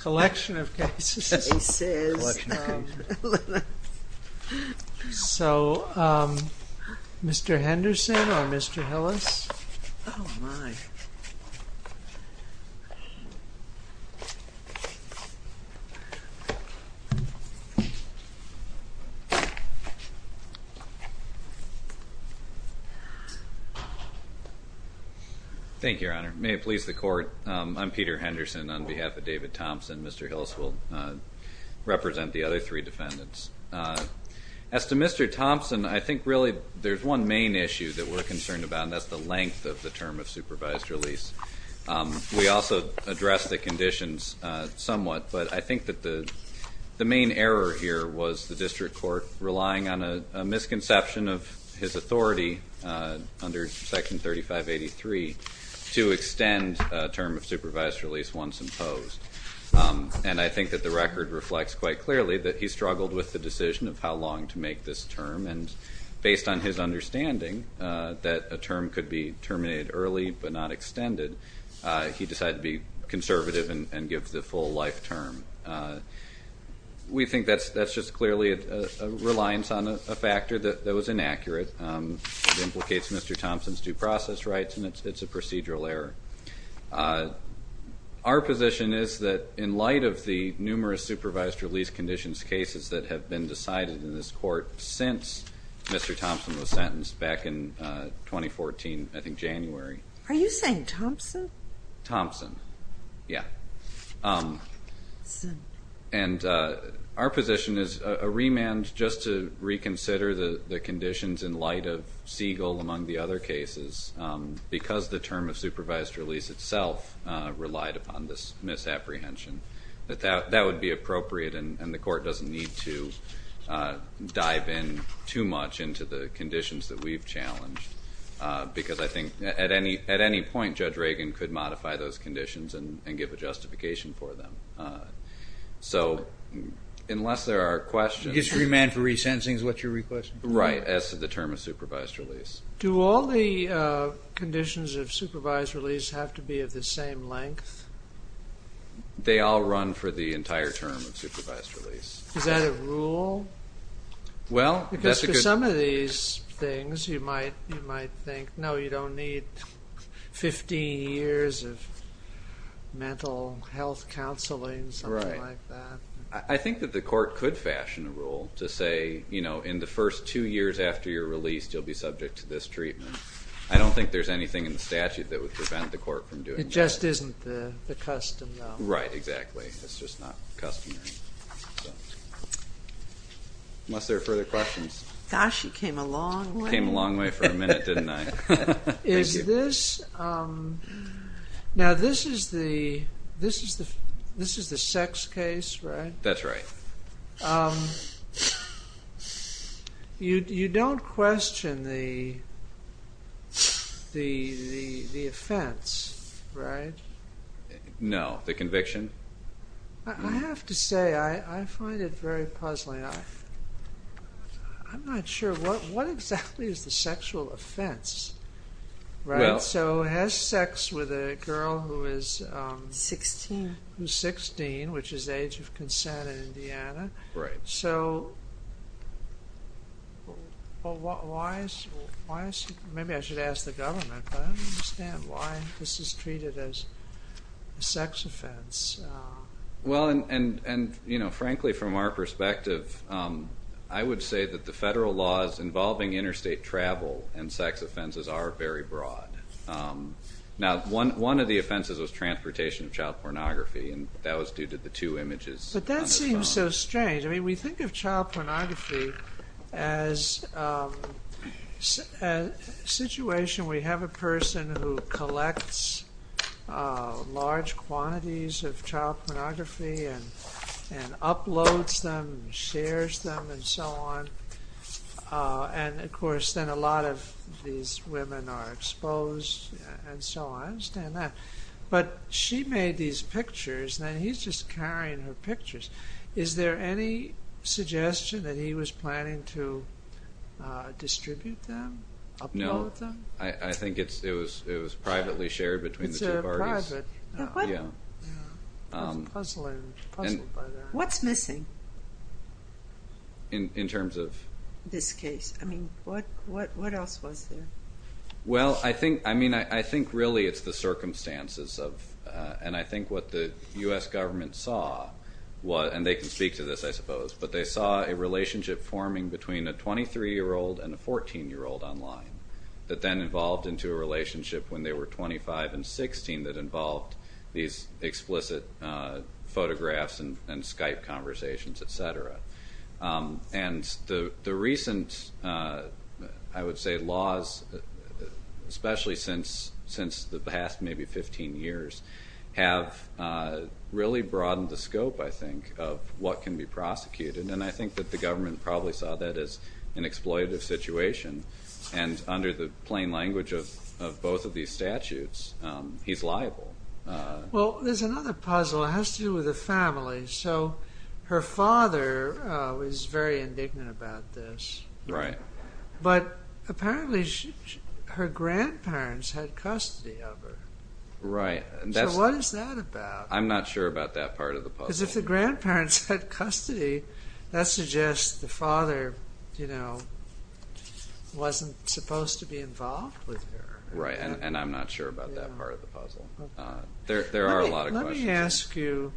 Collection of cases. So Mr. Henderson or Mr. Hillis? Thank you, Your Honor. May it please the Court, I'm Peter Henderson on behalf of David Thompson. Mr. Hillis will represent the other three defendants. As to Mr. Thompson, I think really there's one main issue that we're concerned about, and that's the length of the term of supervised release. We also addressed the conditions somewhat, but I think that the the main error here was the district court relying on a misconception of his authority under Section 3583 to extend term of supervised release once imposed. And I think that the record reflects quite clearly that he struggled with the decision of how long to make this term, and based on his understanding that a term could be terminated early but not extended, he decided to be conservative and give the full life term. We think that that's just clearly a reliance on a factor that was inaccurate. It implicates Mr. Thompson's due process rights, and it's a procedural error. Our position is that in light of the numerous supervised release conditions cases that have been decided in this court since Mr. Thompson was sentenced back in 2014, I think January. Are you saying Thompson? Thompson, yeah. And our position is a remand just to reconsider the conditions in light of Siegel among the other cases, because the term of supervised release itself relied upon this misapprehension, that that would be appropriate and the court doesn't need to dive in too much into the conditions that we've challenged, because I think at any point Judge Reagan could modify those conditions and give a justification for them. So, unless there are questions. Is remand for resentencing what you're requesting? Right, as to the term of supervised release. Do all the conditions of supervised release have to be of the same length? They all run for the entire term of supervised release. Is that a rule? Well, that's a good... Because for some of these things you might think, no, you don't need 50 years of mental health counseling, something like that. I think that the court could fashion a rule to say, you know, in the first two years after your release you'll be subject to this treatment. I don't think there's anything in statute that would prevent the court from doing that. It just isn't the custom, though. Right, exactly, it's just not customary. Unless there are further questions. Gosh, you came a long way. Came a minute, didn't I? Now, this is the sex case, right? That's right. You don't question the offense, right? No, the conviction? I have to say, I find it very offense, right? So, has sex with a girl who is 16, which is age of consent in Indiana. Right. So, maybe I should ask the government, but I don't understand why this is treated as a sex offense. Well, and, you know, frankly, from our perspective, I would say that the sex offenses are very broad. Now, one of the offenses was transportation of child pornography, and that was due to the two images. But that seems so strange. I mean, we think of child pornography as a situation where you have a person who collects large quantities of child pornography and uploads them, shares them, and so on. And, of course, then a lot of these women are exposed, and so on. But, she made these pictures, and he's just carrying her pictures. Is there any suggestion that he was planning to distribute them? No, I think it was privately shared between the two parties. What's missing, in terms of this case? I mean, what else was there? Well, I think, I mean, I think really it's the circumstances of, and I think what the U.S. government saw was, and they can speak to this, I suppose, but they saw a relationship forming between a 23-year-old and a 14-year-old online that then evolved into a relationship when they were 25 and 16 that involved these explicit photographs and Skype conversations, etc. And the recent, I would say, laws, especially since the past maybe 15 years, have really broadened the scope, I think, of what can be prosecuted. And I think that the language of both of these statutes, he's liable. Well, there's another puzzle. It has to do with the family. So, her father was very indignant about this. Right. But, apparently, her grandparents had custody of her. Right. So, what is that about? I'm not sure about that part of the puzzle. Because if the grandparents had custody, that suggests the father, you know, wasn't supposed to be involved with her. Right, and I'm not sure about that part of the puzzle. There are a lot of questions. Let me ask you,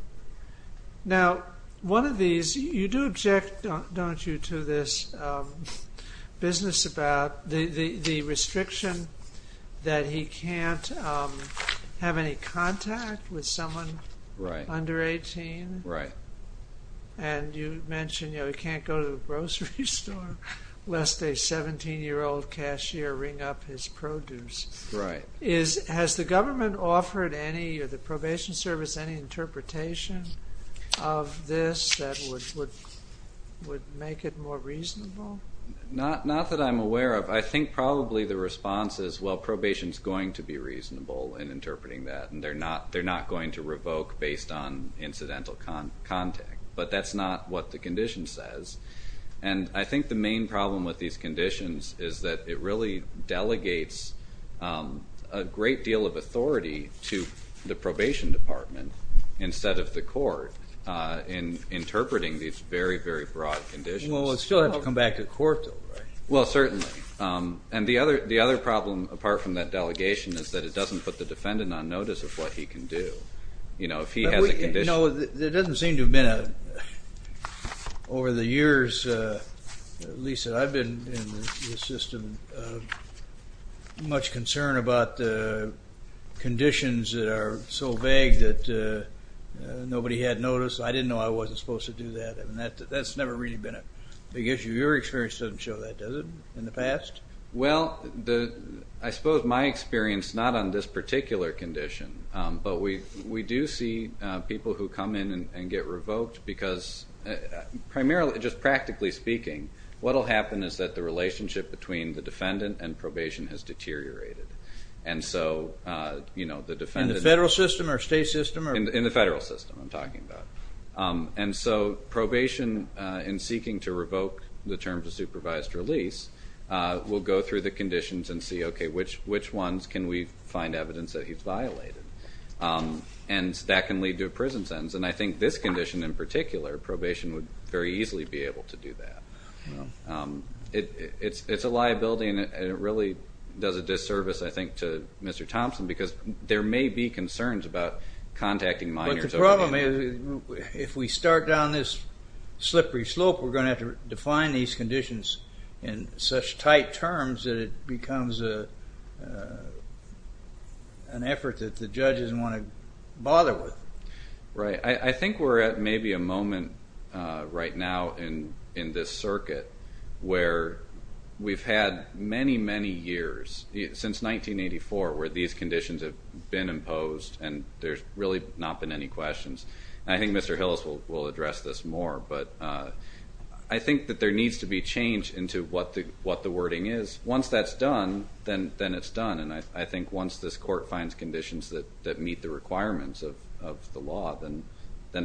now, one of these, you do object, don't you, to this business about the restriction that he can't have any contact with someone under 18. Right. And you mentioned, you know, he can't go to the grocery store lest a 17-year-old cashier ring up his produce. Right. Has the government offered any of the probation service any interpretation of this that would make it more reasonable? Not that I'm aware of. I think, probably, the response is, well, probation is going to be reasonable in interpreting that, and they're not going to revoke based on incidental contact. But, that's not what the condition says. And I think the main problem with these conditions is that it really delegates a great deal of authority to the probation department, instead of the court, in interpreting these very, very broad conditions. Well, it still has to come back to the court, though, right? Well, certainly. And the other problem, apart from that delegation, is that it doesn't put the defendant on probation. Over the years, Lisa, I've been in the system, much concern about the conditions that are so vague that nobody had noticed. I didn't know I wasn't supposed to do that, and that's never really been a big issue. Your experience doesn't show that, does it, in the past? Well, I suppose my experience, not on this particular condition, but we do see people who come in and get revoked because, primarily, just practically speaking, what will happen is that the relationship between the defendant and probation has deteriorated. And so, you know, the defendant... In the federal system or state system? In the federal system, I'm talking about. And so, probation, in seeking to revoke the terms of supervised release, will go through the conditions and see, okay, which ones can we find evidence that he's violated? And that can lead to a prison sentence, and I think this condition, in particular, probation would very easily be able to do that. It's a liability, and it really does a disservice, I think, to Mr. Thompson, because there may be concerns about contacting minors. But the problem is, if we start down this slippery slope, we're going to have to define these conditions in such tight terms that it becomes an effort that the judges want to bother with. Right. I think we're at maybe a moment right now in this circuit where we've had many, many years, since 1984, where these conditions have been imposed and there's really not been any questions. I think Mr. Hillis will the wording is. Once that's done, then it's done. And I think once this court finds conditions that meet the requirements of the law, then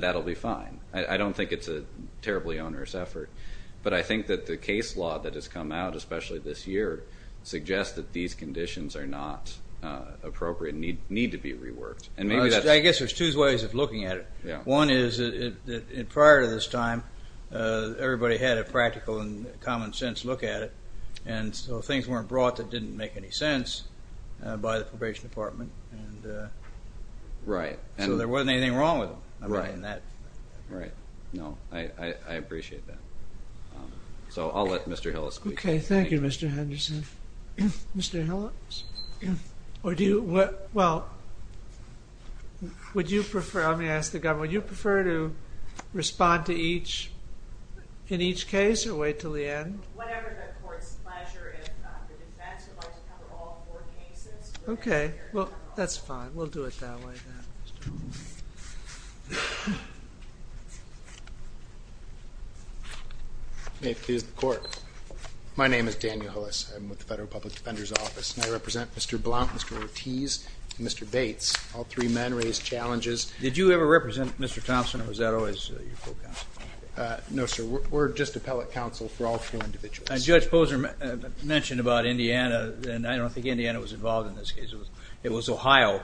that'll be fine. I don't think it's a terribly onerous effort, but I think that the case law that has come out, especially this year, suggests that these conditions are not appropriate, need to be reworked. I guess there's two ways of looking at it. One is, prior to this time, everybody had a practical and sense look at it, and so things weren't brought that didn't make any sense by the probation department. Right. And there wasn't anything wrong with that. Right. No, I appreciate that. So I'll let Mr. Hillis speak. Okay, thank you, Mr. Henderson. Mr. Hillis, would you prefer, let me ask the government, would you prefer to in each case, or wait till the end? Okay, well, that's fine. We'll do it that way then. May it please the court. My name is Daniel Hillis. I'm with the Federal Public Defender's Office, and I represent Mr. Blount, Mr. Ortiz, and Mr. Bates. All three men raised No, sir, we're just appellate counsel for all four individuals. As Judge Posner mentioned about Indiana, and I don't think Indiana was involved in this case. It was Ohio,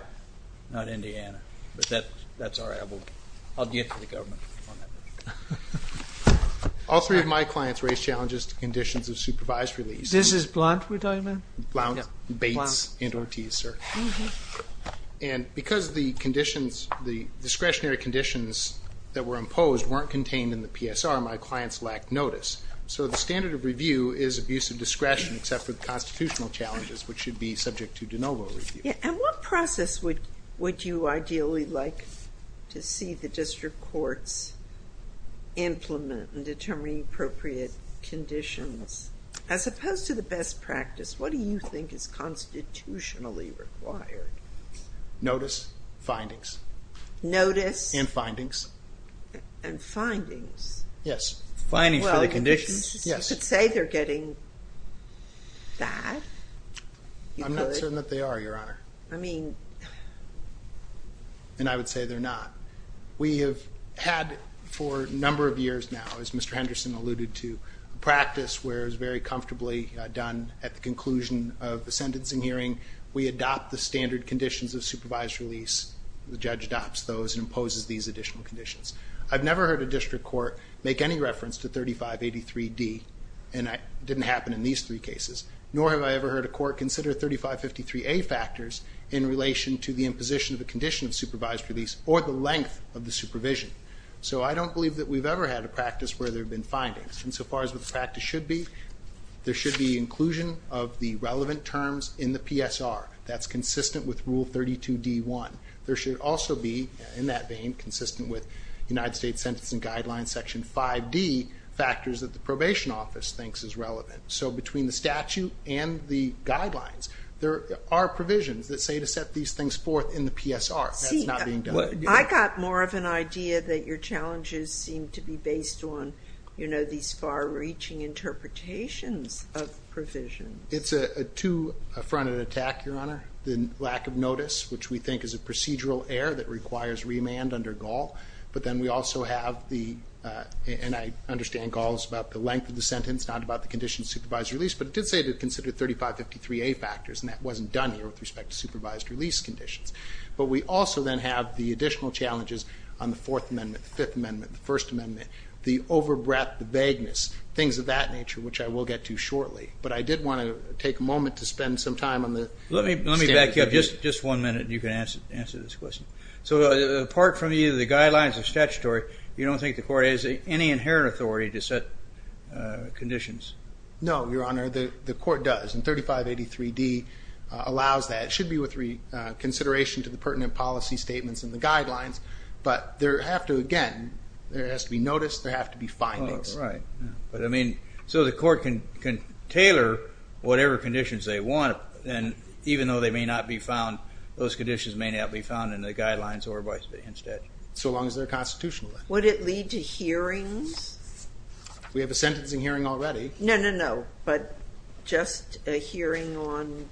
not Indiana, but that's all right. I'll do it for the government. All three of my clients raised challenges to conditions of supervised release. This is Blount we're talking about? Blount, Bates, and Ortiz, sir. And because of the are not contained in the PSR, my clients lack notice. So the standard of review is abuse of discretion except with constitutional challenges, which should be subject to de novo review. And what process would you ideally like to see the district courts implement and determine appropriate conditions? As opposed to the best practice, what do you think is constitutionally required? Notice, findings. Notice. And findings. Yes, findings for the conditions. Well, you could say they're getting fast. I'm not certain that they are, Your Honor. I mean... And I would say they're not. We have had for a number of years now, as Mr. Henderson alluded to, a practice where it's very comfortably done at the conclusion of the sentencing hearing. We adopt the standard conditions of supervised release. The judge adopts those and imposes these additional conditions. I've never heard a district court make any reference to 3583D. And that didn't happen in these three cases. Nor have I ever heard a court consider 3553A factors in relation to the imposition of the condition of supervised release or the length of the supervision. So I don't believe that we've ever had a practice where there have been findings. And so far as what the practice should be, there should be inclusion of the relevant terms in the PSR. That's consistent with Rule 32D1. There should also be, in that domain, consistent with United States Sentencing Guidelines, Section 5D, factors that the probation office thinks is relevant. So between the statute and the guidelines, there are provisions that say to set these things forth in the PSR. That's not being done. I got more of an idea that your challenges seem to be based on, you know, these far-reaching interpretations of provisions. It's a two-fronted attack, Your Honor. The lack of notice, which we think is a procedural error that requires remand under Gaul. But then we also have the, and I understand Gaul is about the length of the sentence, not about the condition of supervised release. But it did say to consider 3553A factors, and that wasn't done with respect to supervised release conditions. But we also then have the additional challenges on the Fourth Amendment, Fifth Amendment, First Amendment, the over-breath, the vagueness, things of that nature, which I will get to shortly. But I did want to take a moment to spend some time on the... Let me back up just one minute, and you can answer this question. So apart from either the guidelines or statutory, you don't think the court has any inherent authority to set conditions? No, Your Honor, the court does. And 3583D allows that. It should be with consideration to the pertinent policy statements and the guidelines. But there have to, again, there has to be notice, there have to be findings. Right. But I mean, so the court can tailor whatever conditions they want, and even though they may not be found, those conditions may not be found in the guidelines or vice versa instead. So long as they're constitutional. Would it lead to hearings? We have a sentencing hearing already. No, no, no. But just a hearing on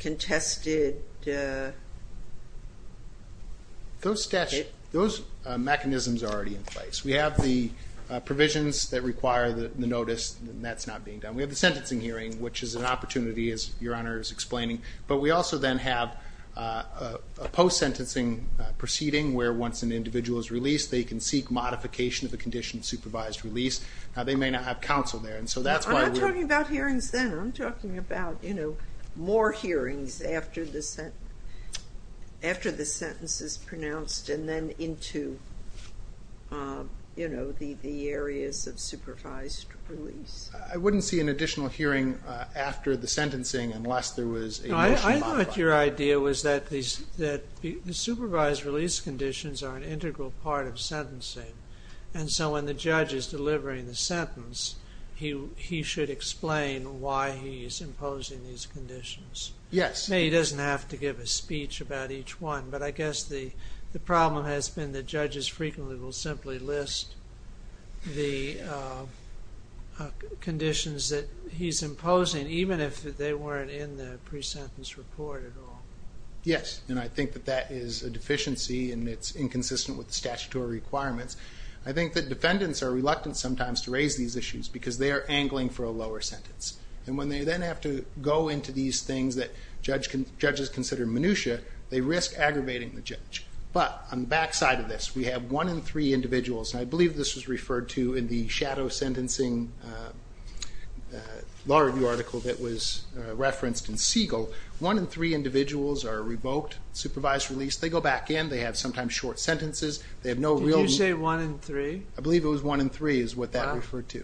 contested... Those mechanisms are already in place. We have the provisions that require the notice, and that's not being done. We have the sentencing hearing, which is an opportunity, as Your Honor is explaining. But we also then have a post-sentencing proceeding where once an additional modification of the condition of supervised release, they may not have counsel there. I'm not talking about hearings then. I'm talking about, you know, more hearings after the sentence is pronounced and then into, you know, the areas of supervised release. I wouldn't see an additional hearing after the sentencing unless there was a... I thought your idea was that the supervised release conditions are an integral part of sentencing, and so when the judge is delivering the sentence, he should explain why he's imposing these conditions. Yes. He doesn't have to give a speech about each one, but I guess the problem has been the judges frequently will simply list the conditions that he's imposing, even if they weren't in the pre-sentence report at all. Yes, and I think that that is a deficiency, and it's inconsistent with the statutory requirements. I think that defendants are reluctant sometimes to raise these issues because they are angling for a lower sentence. And when they then have to go into these things that judges consider minutiae, they risk aggravating the judge. But on the back side of this, we have one in three individuals, and I believe this was one in three individuals are revoked, supervised release. They go back in. They have sometimes short sentences. Did you say one in three? I believe it was one in three is what that referred to.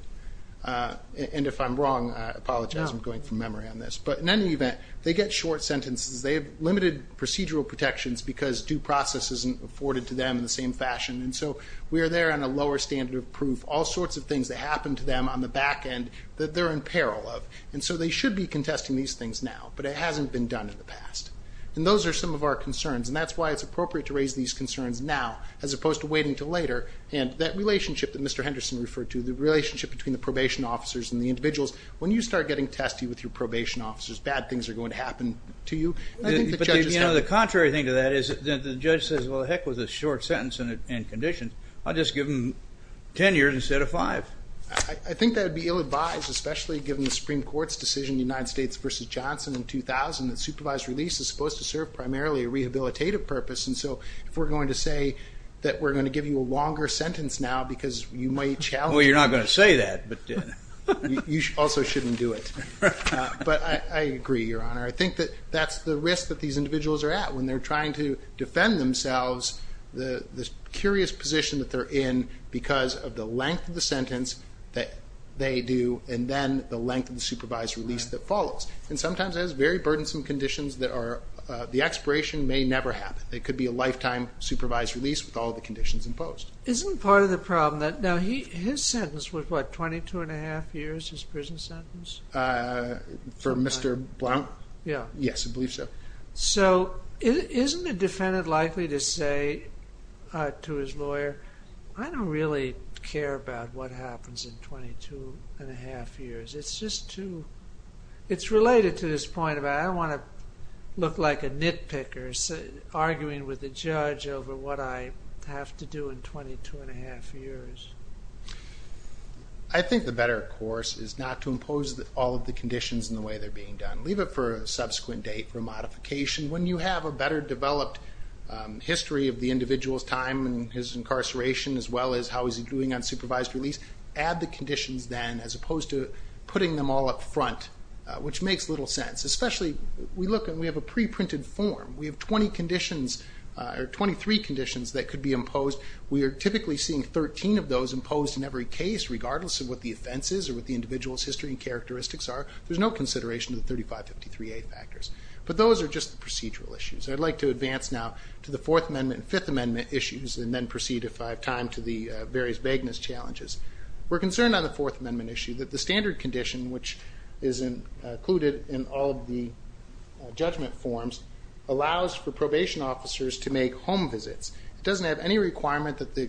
And if I'm wrong, I apologize. I'm going from memory on this. But in any event, they get short sentences. They have limited procedural protections because due process isn't afforded to them in the same fashion, and so we are there on a lower standard of proof. All sorts of things that happen to them on the back end that they're in peril of, and so they should be contesting these things now, but it hasn't been done in the past. And those are some of our concerns, and that's why it's appropriate to raise these concerns now as opposed to waiting until later. And that relationship that Mr. Henderson referred to, the relationship between the probation officers and the individuals, when you start getting testy with your probation officers, bad things are going to happen to you. The contrary thing to that is that the judge says, well, the heck with this short sentence and condition. I'll just give them 10 years instead of five. I think that would be ill-advised, especially given the Supreme Court's decision in the United States versus Johnson in 2000 that supervised release is supposed to serve primarily a rehabilitative purpose, and so if we're going to say that we're going to give you a longer sentence now because you might challenge... Well, you're not going to say that, but... You also shouldn't do it. But I agree, Your Honor. I think that that's the risk that these individuals are at when they're trying to defend themselves, this curious position that they're in because of the length of the sentence that they do and then the length of the supervised release that follows. And sometimes it has very burdensome conditions that are... The expiration may never happen. It could be a lifetime supervised release with all the conditions imposed. Isn't part of the problem that... Now, his sentence was, what, 22 1⁄2 years, his prison sentence? For Mr. Blount? Yeah. Yes, I believe so. So isn't a defendant likely to say to his lawyer, I don't really care about what happens in 22 1⁄2 years. It's just too... It's related to this point about I don't want to look like a nitpicker arguing with the judge over what I have to do in 22 1⁄2 years. I think the better course is not to impose all of the conditions in the way they're being done. Leave it for a subsequent date for modification. When you have a better developed history of the individual's time in his incarceration as well as how he's doing on supervised release, add the conditions then as opposed to putting them all up front, which makes little sense. Especially, we have a pre-printed form. We have 23 conditions that could be imposed. We are typically seeing 13 of those imposed in every case, regardless of what the offense is or what the individual's history and characteristics are. There's no consideration of the 3553A factors. But those are just procedural issues. I'd like to advance now to the Fourth Amendment and Fifth Amendment issues and then proceed if I have time to the various vagueness challenges. We're concerned on the Fourth Amendment issue that the standard condition, which is included in all the judgment forms, allows for probation officers to make home visits. It doesn't have any requirement that the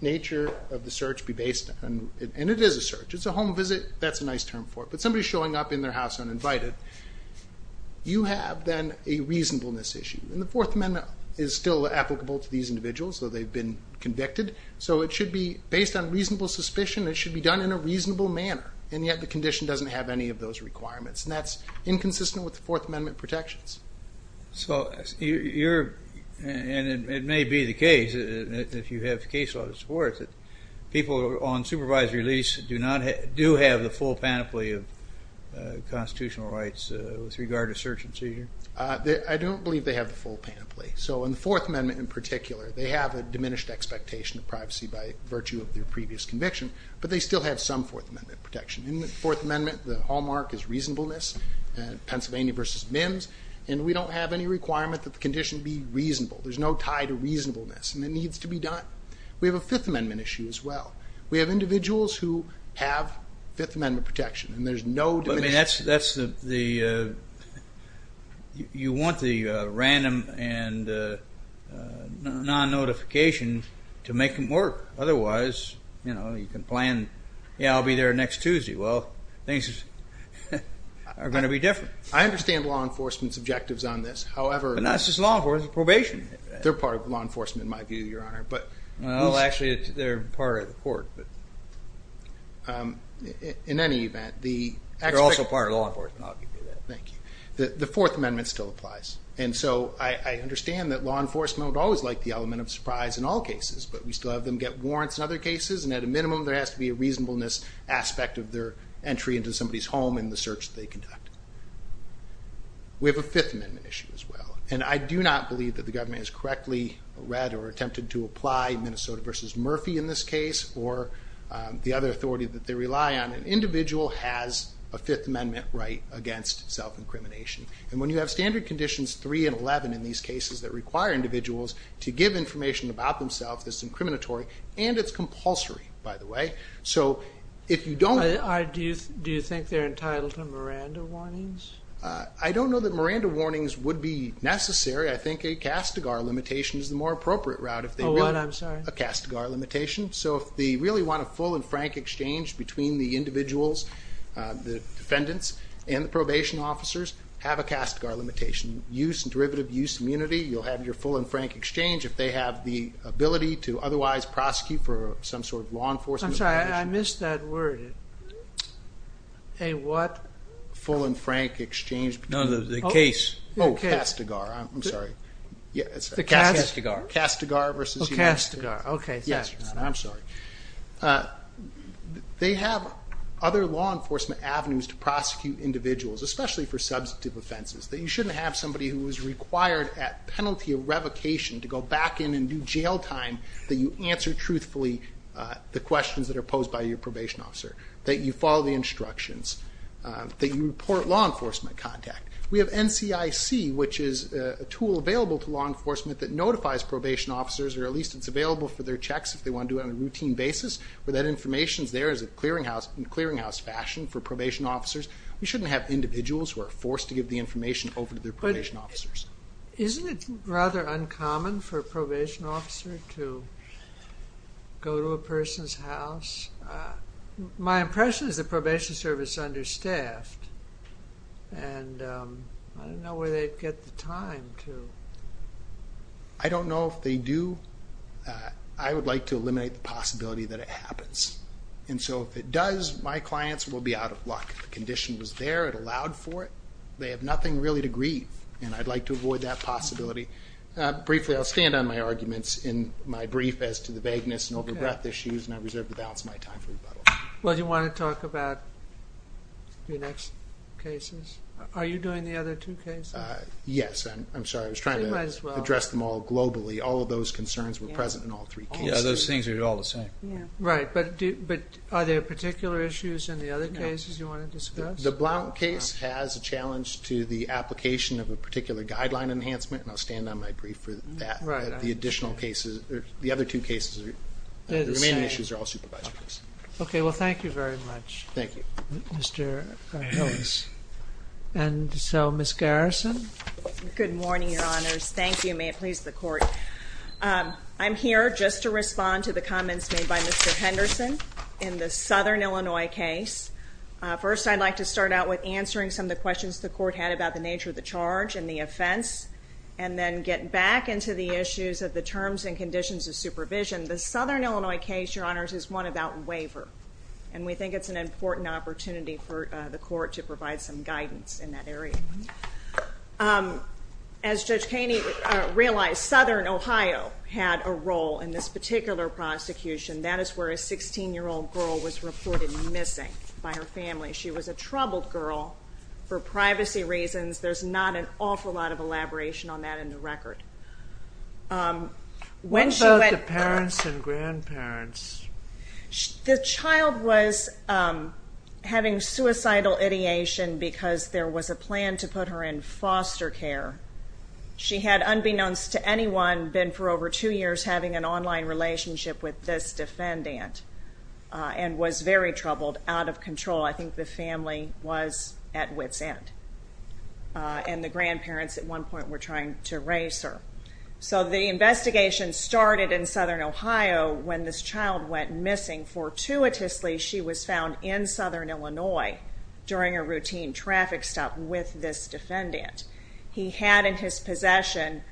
nature of the search be based on... And it is a search. It's a home visit. That's a nice term for it. But somebody's showing up in their house uninvited. You have then a reasonableness issue. And the Fourth Amendment is still applicable to these individuals, though they've been convicted. So it should be based on reasonable suspicion. It should be done in a reasonable manner. And yet the condition doesn't have any of those requirements. And that's inconsistent with the Fourth Amendment protections. So you're... And it may be the case, if you have the case law that supports it, people on supervised release do have the full panoply of constitutional rights with regard to search and seizure? I don't believe they have the full panoply. So in the Fourth Amendment in particular, they have a diminished expectation of privacy by virtue of their previous conviction. But they still have some Fourth Amendment protection. In the Fourth Amendment, the hallmark is reasonableness, Pennsylvania versus MIMS. And we don't have any requirement that the condition be reasonable. There's no tie to reasonableness. And it needs to be done. We have a Fifth Amendment issue as well. We have individuals who have Fifth Amendment protection. And there's no... I mean, that's the... You want the random and non-notification to make them work. Otherwise, you know, you can plan, yeah, I'll be there next Tuesday. Well, things are going to be different. I understand law enforcement's objectives on this. However... But that's just law enforcement probation. They're part of law enforcement in my view, Your Honor. Well, actually, they're part of the court. In any event, the... They're also part of law enforcement. Thank you. The Fourth Amendment still applies. And so I understand that law enforcement would always like the element of surprise in all cases. But we still have them get warrants in other cases. And at a minimum, there has to be a reasonableness aspect We have a Fifth Amendment issue as well. And I do not believe that the government has correctly read or attempted to apply Minnesota v. Murphy in this case or the other authority that they rely on. An individual has a Fifth Amendment right against self-incrimination. And when you have standard conditions 3 and 11 in these cases that require individuals to give information about themselves, it's incriminatory and it's compulsory, by the way. So if you don't... Do you think they're entitled to Miranda warnings? I don't know that Miranda warnings would be necessary. I think a CASTIGAR limitation is the more appropriate route. Oh, what? I'm sorry. A CASTIGAR limitation. So if they really want a full and frank exchange between the individuals, the defendants, and the probation officers, have a CASTIGAR limitation. Use and derivative use immunity. You'll have your full and frank exchange if they have the ability to otherwise prosecute for some sort of law enforcement... I'm sorry, I missed that word. A what? Full and frank exchange... No, the case. Oh, CASTIGAR, I'm sorry. The CASTIGAR. CASTIGAR versus... Oh, CASTIGAR, okay. I'm sorry. They have other law enforcement avenues to prosecute individuals, especially for substantive offenses, that you shouldn't have somebody who is required at penalty of revocation to go back in and do jail time that you answer truthfully the questions that are posed by your probation officer, that you follow the instructions, that you report law enforcement contact. We have NCIC, which is a tool available for law enforcement that notifies probation officers, or at least it's available for their checks if they want to do it on a routine basis, but that information is there in a clearinghouse fashion for probation officers. You shouldn't have individuals who are forced to give the information over to their probation officers. Isn't it rather uncommon for a probation officer to go to a person's house? My impression is the probation service is understaffed, and I don't know where they get the time to... I don't know if they do. I would like to eliminate the possibility that it happens, and so if it does, my clients will be out of luck. The condition was there, it allowed for it. They have nothing really to grieve, and I'd like to avoid that possibility. Briefly, I'll stand on my arguments in my brief as to the vagueness and over-breath issues, and I reserve the balance of my time for rebuttal. Well, do you want to talk about your next cases? Are you doing the other two cases? Yes, I'm sorry. I was trying to address them all globally. All of those concerns were present in all three cases. Yeah, those things are all the same. Right, but are there particular issues in the other cases you want to discuss? The Blount case has a challenge to the application of a particular guideline enhancement, and I'll stand on my brief for that. The other two cases, the remaining issues are all supervised. Okay, well, thank you very much, Mr. Thomas. And so, Ms. Garrison? Good morning, Your Honors. Thank you. May it please the Court. I'm here just to respond to the comments made by Mr. Henderson in the Southern Illinois case. First, I'd like to start out with answering some of the questions the Court had about the nature of the charge and the offense and then get back into the issues of the terms and conditions of supervision. The Southern Illinois case, Your Honors, is one about waiver, and we think it's an important opportunity for the Court to provide some guidance in that area. As Judge Kainey realized, Southern Ohio had a role in this particular prosecution. That is where a 16-year-old girl was reported missing by her family. She was a troubled girl for privacy reasons. There's not an awful lot of elaboration on that in the record. What about the parents and grandparents? The child was having suicidal ideation because there was a plan to put her in foster care. She had, unbeknownst to anyone, been for over two years having an online relationship with this defendant and was very troubled, out of control. I think the family was at wit's end. And the grandparents at one point were trying to raise her. So the investigation started in Southern Ohio when this child went missing. Fortuitously, she was found in Southern Illinois during a routine traffic stop with this defendant. He had in his possession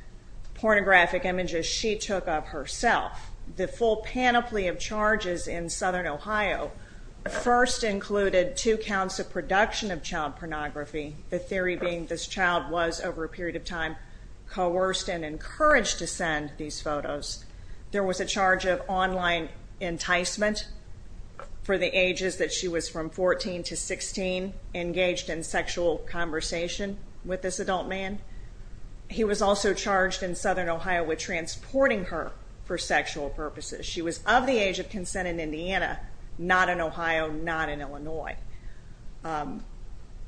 pornographic images she took of herself. The full panoply of charges in Southern Ohio first included two counts of production of child pornography, the theory being this child was, over a period of time, coerced and encouraged to send these photos. There was a charge of online enticement for the ages that she was from 14 to 16, engaged in sexual conversation with this adult man. He was also charged in Southern Ohio with transporting her for sexual purposes. She was of the age of consent in Indiana, not in Ohio, not in Illinois.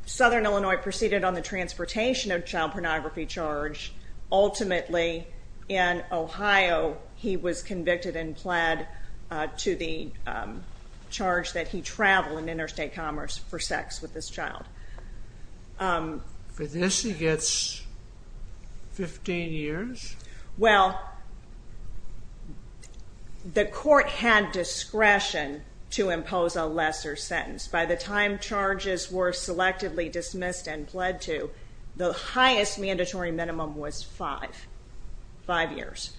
Southern Illinois proceeded on the transportation of child pornography charge. Ultimately, in Ohio, he was convicted and pled to the charge that he traveled in interstate commerce for sex with this child. But this is just 15 years? Well, the court had discretion to impose a lesser sentence. By the time charges were selectively dismissed and pled to, the highest mandatory minimum was five, five years.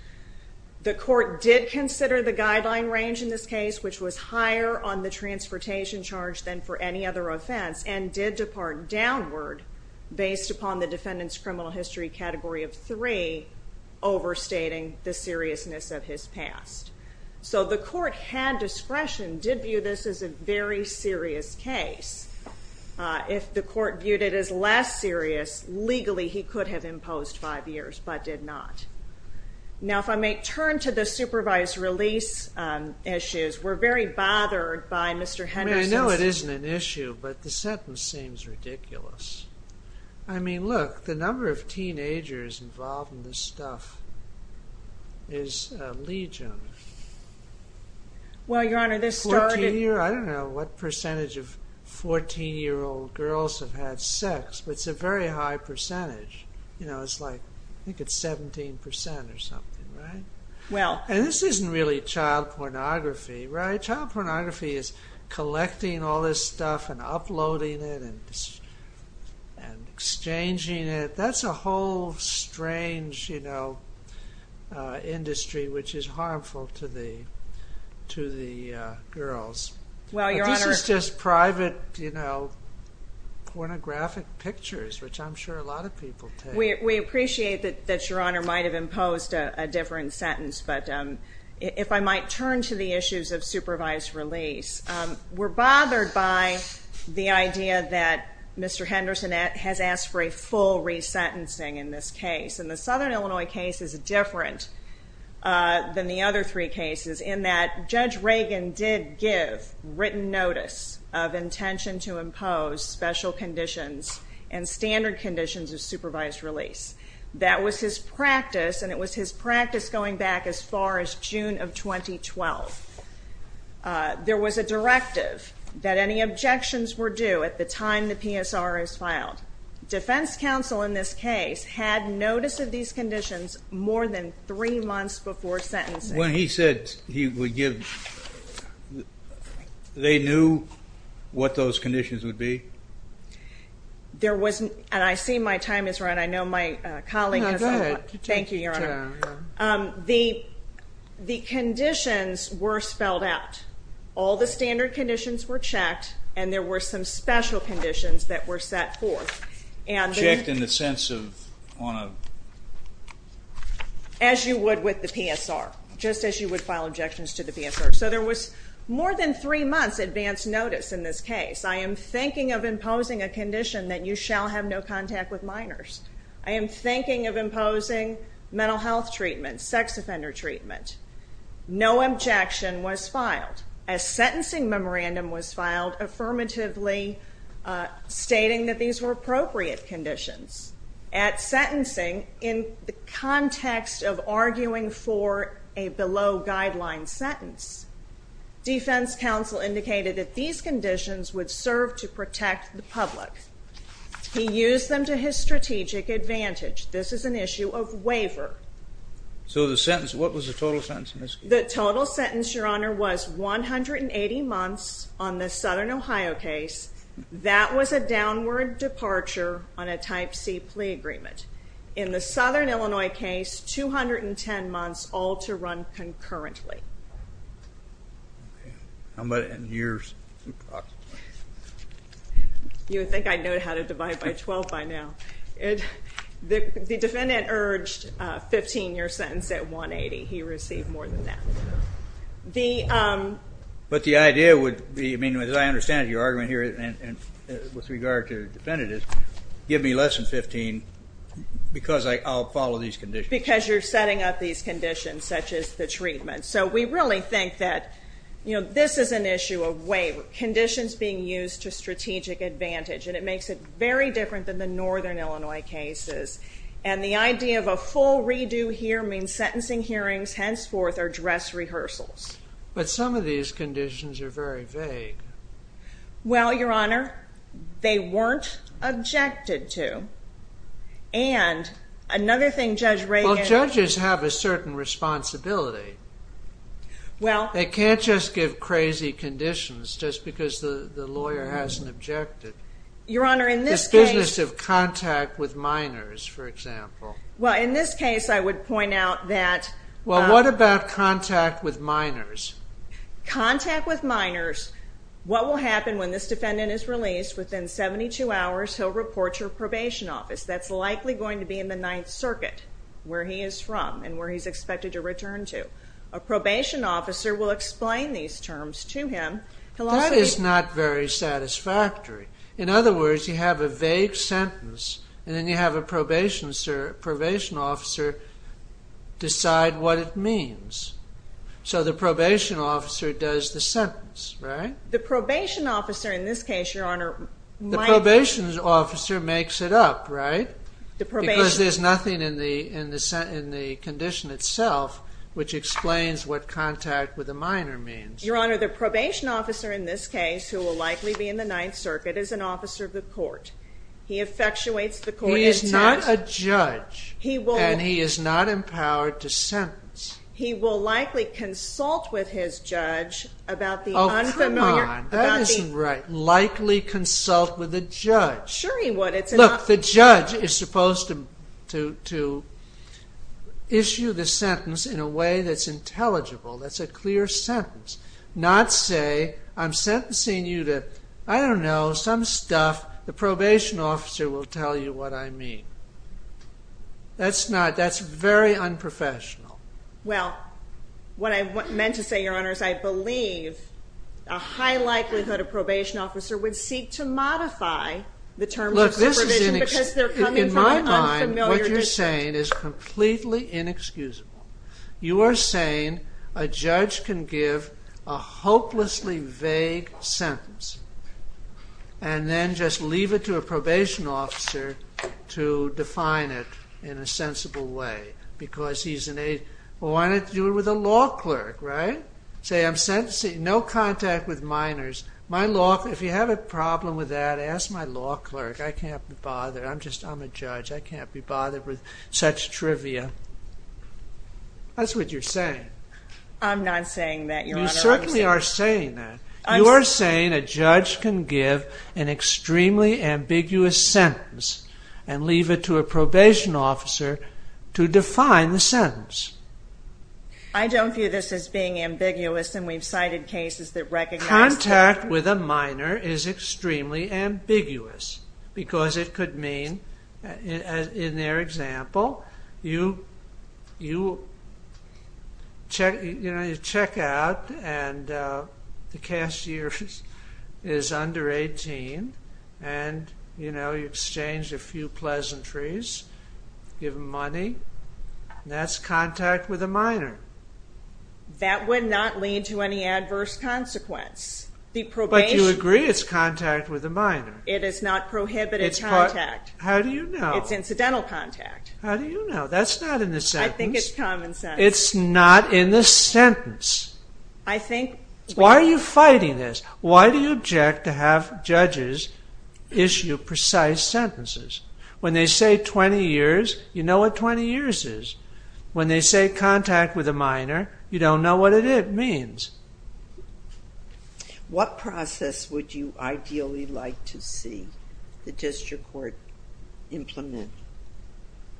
The court did consider the guideline range in this case, which was higher on the transportation charge than for any other offense, and did depart downward based upon the defendant's criminal history category of three, overstating the seriousness of his past. So the court had discretion, did view this as a very serious case. If the court viewed it as less serious, legally he could have imposed five years, but did not. Now, if I may turn to the supervised release issues, we're very bothered by Mr. Henderson's... I mean, I know it isn't an issue, but the sentence seems ridiculous. I mean, look, the number of teenagers involved in this stuff is legion. Well, Your Honor, this started... I don't know what percentage of 14-year-old girls have had sex, but it's a very high percentage. You know, it's like, I think it's 17% or something, right? Well... And this isn't really child pornography, right? Child pornography is collecting all this stuff and uploading it and exchanging it. That's a whole strange, you know, industry, which is harmful to the girls. Well, Your Honor... This is just private, you know, pornographic pictures, which I'm sure a lot of people take. We appreciate that Your Honor might have imposed a different sentence, but if I might turn to the issues of supervised release, we're bothered by the idea that Mr. Henderson has asked for a full resentencing in this case. And the Southern Illinois case is different than the other three cases, in that Judge Reagan did give written notice of intention to impose special conditions and standard conditions of supervised release. That was his practice, and it was his practice going back as far as June of 2012. There was a directive that any objections were due at the time the PSR is filed. Defense counsel in this case had notice of these conditions more than three months before sentencing. When he said he would give... They knew what those conditions would be? There was... And I see my time has run. No, go ahead. Thank you, Your Honor. The conditions were spelled out. All the standard conditions were checked, and there were some special conditions that were set forth. Checked in the sense of... As you would with the PSR, just as you would file objections to the PSR. So there was more than three months advance notice in this case. I am thinking of imposing a condition that you shall have no contact with minors. I am thinking of imposing mental health treatment, sex offender treatment. No objection was filed. A sentencing memorandum was filed affirmatively stating that these were appropriate conditions. At sentencing, in context of arguing for a below-guideline sentence, defense counsel indicated that these conditions would serve to protect the public. He used them to his strategic advantage. This is an issue of waiver. So the sentence... What was the total sentence in this case? The total sentence, Your Honor, was 180 months on the Southern Ohio case. That was a downward departure on a Type C plea agreement. In the Southern Illinois case, 210 months all to run concurrently. How about in years? You would think I'd know how to divide by 12 by now. The defendant urged a 15-year sentence at 180. He received more than that. But the idea would be... As I understand it, your argument here with regard to the defendant is give me less than 15 because I'll follow these conditions. Because you're setting up these conditions, such as the treatment. So we really think that this is an issue of waiver. Conditions being used to strategic advantage. And it makes it very different than the Northern Illinois cases. And the idea of a full redo here means sentencing hearings, henceforth, or dress rehearsals. But some of these conditions are very vague. Well, Your Honor, they weren't objected to. And another thing Judge Reagan... Well, judges have a certain responsibility. They can't just give crazy conditions just because the lawyer hasn't objected. Your Honor, in this case... This business of contact with minors, for example. Well, in this case, I would point out that... Well, what about contact with minors? Contact with minors. What will happen when this defendant is released, within 72 hours, he'll report to a probation office. That's likely going to be in the Ninth Circuit, where he is from and where he's expected to return to. A probation officer will explain these terms to him That is not very satisfactory. In other words, you have a vague sentence, and then you have a probation officer decide what it means. So the probation officer does the sentence, right? The probation officer, in this case, Your Honor... The probation officer makes it up, right? Because there's nothing in the condition itself which explains what contact with a minor means. Your Honor, the probation officer in this case, who will likely be in the Ninth Circuit, is an officer of the court. He effectuates the court... He is not a judge. And he is not empowered to sentence. He will likely consult with his judge about the unfamiliar... Oh, come on. That isn't right. Likely consult with a judge. Sure he would. Look, the judge is supposed to issue the sentence in a way that's intelligible. That's a clear sentence. Not say, I'm sentencing you to... I don't know, some stuff. The probation officer will tell you what I mean. That's not... That's very unprofessional. Well, what I meant to say, Your Honor, is I believe a high likelihood a probation officer would seek to modify the terms of the condition... Look, this is inexcusable. In my mind, what you're saying is completely inexcusable. You are saying a judge can give a hopelessly vague sentence and then just leave it to a probation officer to define it in a sensible way. Because he's an... Why not do it with a law clerk, right? Say, I'm sentencing... No contact with minors. If you have a problem with that, ask my law clerk. I can't be bothered. I'm a judge. I can't be bothered with such trivia. That's what you're saying. I'm not saying that, Your Honor. You certainly are saying that. You are saying a judge can give an extremely ambiguous sentence and leave it to a probation officer to define the sentence. I don't view this as being ambiguous, and we've cited cases that recognize... Contact with a minor is extremely ambiguous because it could mean, in their example, you check out and the cashier is under 18 and you exchange a few pleasantries, give him money. That's contact with a minor. That would not lead to any adverse consequence. But you agree it's contact with a minor. How do you know? It's incidental contact. How do you know? That's not in the sentence. I think it's common sense. It's not in the sentence. I think... Why are you fighting this? Why do you object to have judges issue precise sentences? When they say 20 years, you know what 20 years is. When they say contact with a minor, you don't know what it means. What process would you ideally like to see the district court implement?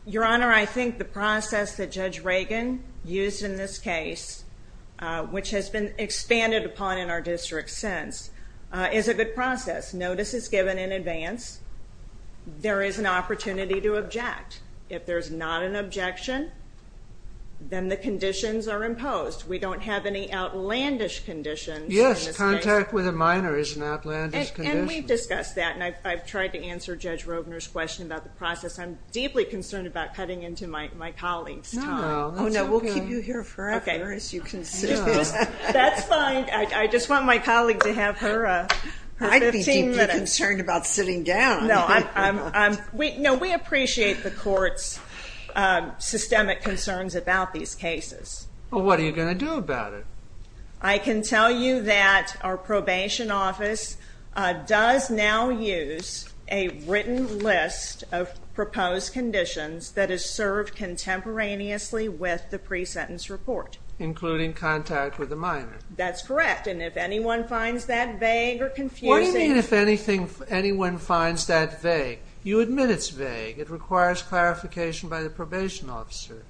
Your Honor, I think the process that Judge Reagan used in this case, which has been expanded upon in our district since, is a good process. Notice is given in advance. There is an opportunity to object. If there's not an objection, then the conditions are imposed. We don't have any outlandish conditions. Yes, contact with a minor is an outlandish condition. and I've tried to answer Judge Roebner's question about the process. I'm deeply concerned about cutting into my colleague. No, we'll keep you here forever, as you can see. That's fine. I just want my colleague to have her... I'd be deeply concerned about sitting down. No, we appreciate the court's systemic concerns about these cases. What are you going to do about it? I can tell you that our probation office does now use a written list of proposed conditions that is served contemporaneously with the pre-sentence report. Including contact with a minor. That's correct. And if anyone finds that vague or confusing... What do you mean if anyone finds that vague? You admit it's vague. It requires clarification by the probation officer.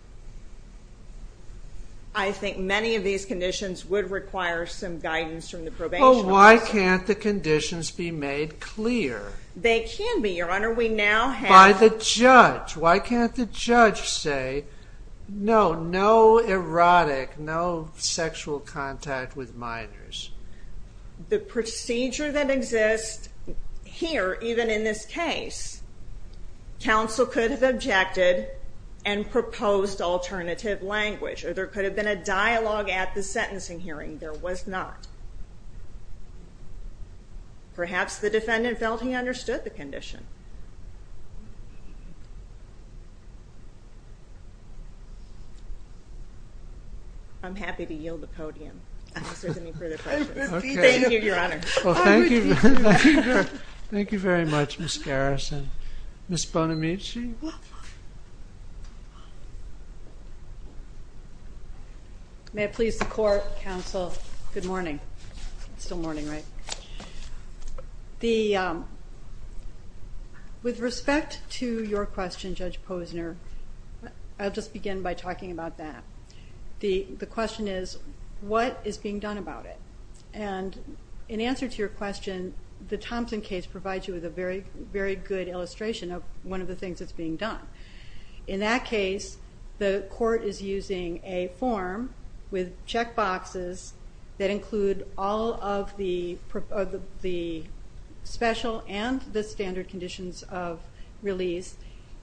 I think many of these conditions would require some guidance from the probation officer. Why can't the conditions be made clear? They can be, Your Honor. We now have... By the judge. Why can't the judge say, no, no erotic, no sexual contact with minors? The procedure that exists here, even in this case, counsel could have objected and proposed alternative language. Or there could have been a dialogue at the sentencing hearing. There was not. Perhaps the defendant felt he understood the condition. I'm happy to yield the podium. Thank you, Your Honor. Thank you very much, Ms. Garrison. Ms. Bonamici? May I please report, counsel? Good morning. It's still morning, right? The... With respect to your question, Judge Posner, I'll just begin by talking about that. The question is, what is being done about it? And in answer to your question, the Thompson case provides you with a very good illustration of one of the things that's being done. In that case, the court is using a form with check boxes that include all of the special and the standard conditions of release.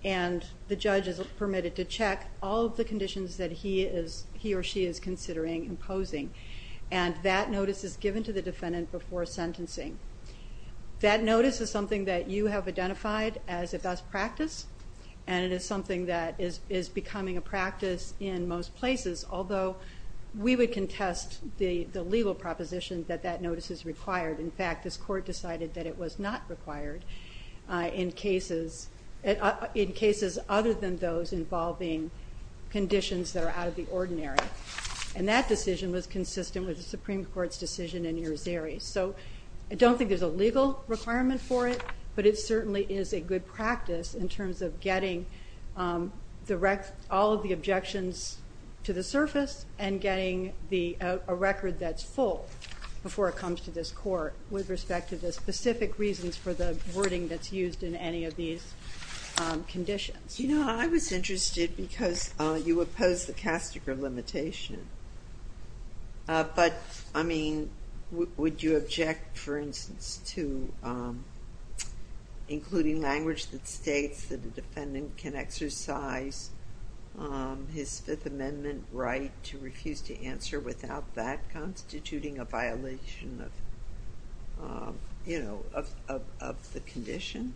And the judge is permitted to check all of the conditions that he or she is considering imposing. And that notice is given to the defendant before sentencing. That notice is something that you have identified as a best practice. And it is something that is becoming a practice in most places. Although, we would contest the legal propositions that that notice is required. In fact, this court decided that it was not required in cases other than those involving conditions that are out of the ordinary. And that decision was consistent with the Supreme Court's decision in New Jersey. So, I don't think there's a legal requirement for it, but it certainly is a good practice in terms of getting all of the objections to the surface and getting a record that's full before it comes to this court with respect to the specific reasons for the wording that's used in any of these conditions. You know, I was interested because you oppose the Kastiger limitation. But, I mean, would you object, for instance, to including language that states that a defendant can exercise his Fifth Amendment right to refuse to answer without that constituting a violation of the condition?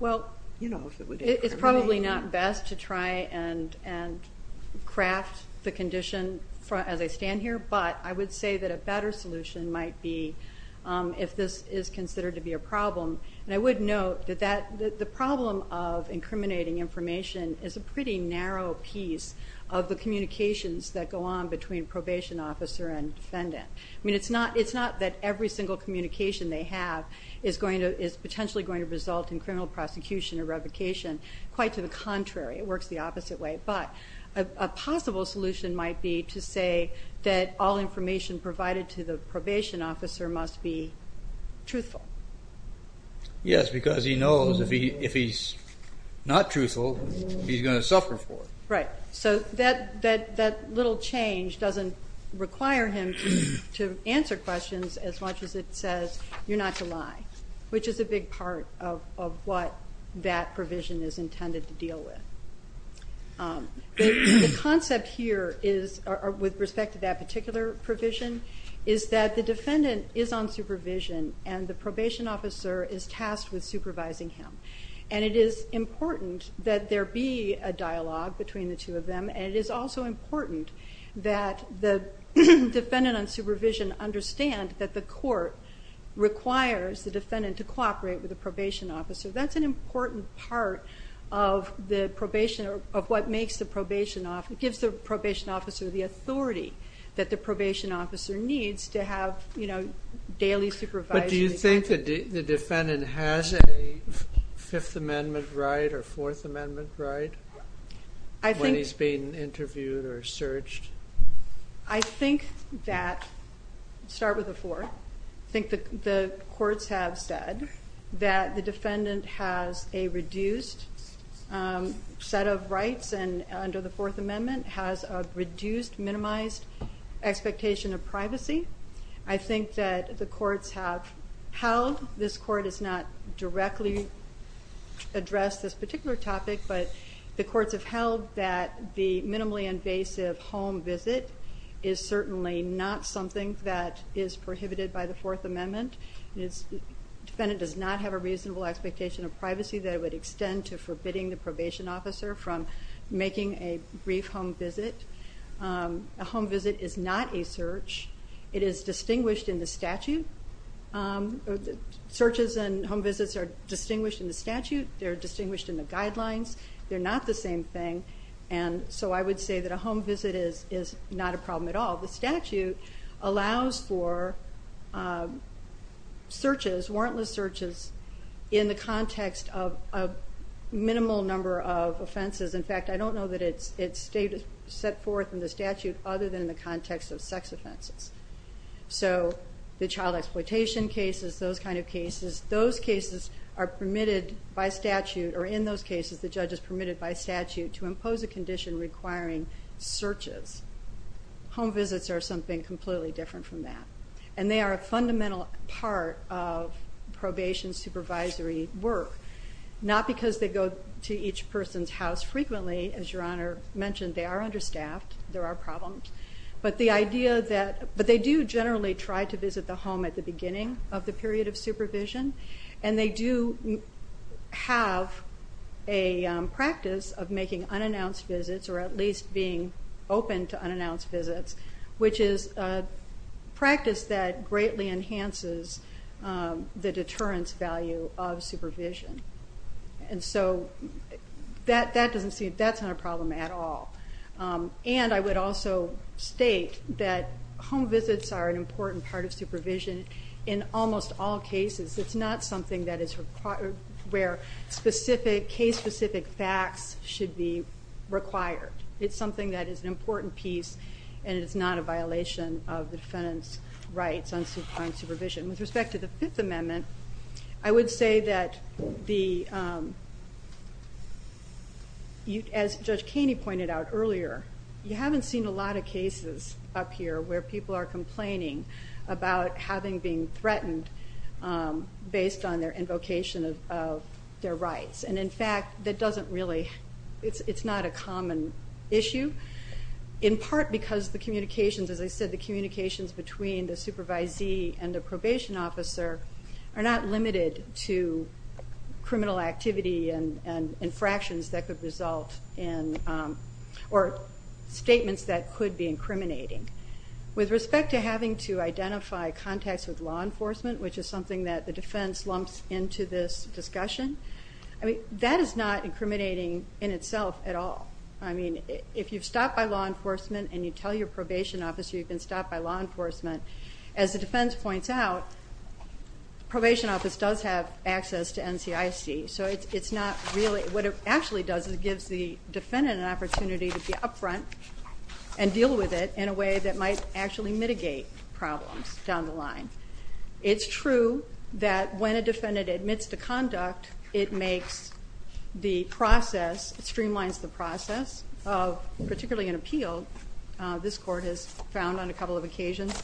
Well, it's probably not best to try and craft the condition as I stand here. But, I would say that a better solution might be if this is considered to be a problem. And I would note that the problem of incriminating information is a pretty narrow piece of the communications that go on between probation officer and defendant. I mean, it's not that every single communication they have is potentially going to result in criminal prosecution or revocation. Quite to the contrary, it works the opposite way. But, a possible solution might be to say that all information provided to the probation officer must be truthful. Yes, because he knows if he's not truthful, he's going to suffer for it. Right. So, that little change doesn't require him to answer questions as much as it says you're not to lie, which is a big part of what that provision is intended to deal with. The concept here is, with respect to that particular provision, is that the defendant is on supervision and the probation officer is tasked with supervising him. And it is important that there be a dialogue between the two of them. And it is also important that the defendant on supervision understands that the court requires the defendant to cooperate with the probation officer. That's an important part of the probation, of what makes the probation officer, gives the probation officer the authority that the probation officer needs to have daily supervision. But do you think the defendant has a Fifth Amendment right or Fourth Amendment right when he's being interviewed or searched? I think that, start with the Fourth. I think the courts have said that the defendant has a reduced set of rights and under the Fourth Amendment, has a reduced, minimized expectation of privacy. I think that the courts have held, this court has not directly addressed this particular topic, but the courts have held that the minimally invasive home visit is certainly not something that is prohibited by the Fourth Amendment. The defendant does not have a reasonable expectation of privacy that would extend to forbidding the probation officer from making a brief home visit. A home visit is not a search. It is distinguished in the statute. Searches and home visits are distinguished in the statute. They're distinguished in the guidelines. They're not the same thing. And so I would say that a home visit is not a problem at all. The statute allows for searches, warrantless searches, in the context of a minimal number of offenses. In fact, I don't know that it's set forth in the statute other than the context of sex offenses. So the child exploitation cases, those kind of cases, those cases are permitted by statute, or in those cases, the judge is permitted by statute to impose a condition requiring searches. Home visits are something completely different from that. And they are a fundamental part of probation supervisory work, not because they go to each person's house frequently, as Your Honor mentioned. They are understaffed. There are problems. But they do generally try to visit the home at the beginning of the period of supervision, and they do have a practice of making unannounced visits, or at least being open to unannounced visits, which is a practice that greatly enhances the deterrence value of supervision. And so that's not a problem at all. And I would also state that home visits are an important part of supervision in almost all cases. It's not something where case-specific facts should be required. It's something that is an important piece and is not a violation of the defendant's rights on suspended supervision. With respect to the Fifth Amendment, I would say that, as Judge Keeney pointed out earlier, you haven't seen a lot of cases up here where people are complaining about having been threatened based on their invocation of their rights. And, in fact, it's not a common issue, in part because, as I said, the communications between the supervisee and the probation officer are not limited to criminal activity and infractions that could result in statements that could be incriminating. With respect to having to identify contacts with law enforcement, which is something that the defense lumps into this discussion, I mean, that is not incriminating in itself at all. I mean, if you've stopped by law enforcement and you tell your probation officer you've been stopped by law enforcement, as the defense points out, probation office does have access to NCIC. So it's not really... What it actually does is it gives the defendant an opportunity to be up front and deal with it in a way that might actually mitigate problems down the line. It's true that when a defendant admits to conduct, it makes the process, it streamlines the process of, particularly in appeals, this court has found on a couple of occasions,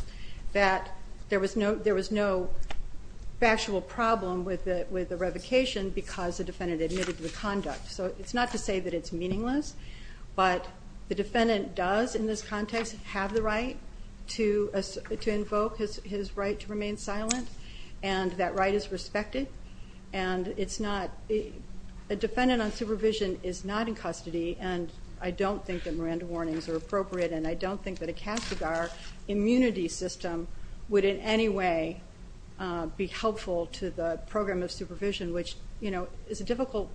that there was no factual problem with the revocation because the defendant admitted to the conduct. So it's not to say that it's meaningless, but the defendant does, in this context, have the right to invoke his right to remain silent, and that right is respected. And it's not... A defendant on supervision is not in custody, and I don't think that Miranda warnings are appropriate, and I don't think that a CASIGAR immunity system would in any way be helpful to the program of supervision, which, you know, is a difficult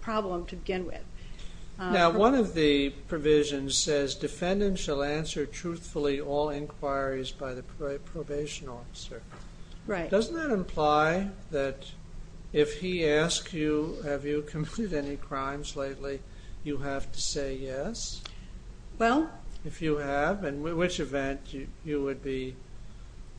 problem to begin with. Now, one of the provisions says, defendant shall answer truthfully all inquiries by the probation officer. Right. Doesn't that imply that if he asks you, have you completed any crimes lately, you have to say yes? Well... If you have, in which event, you would be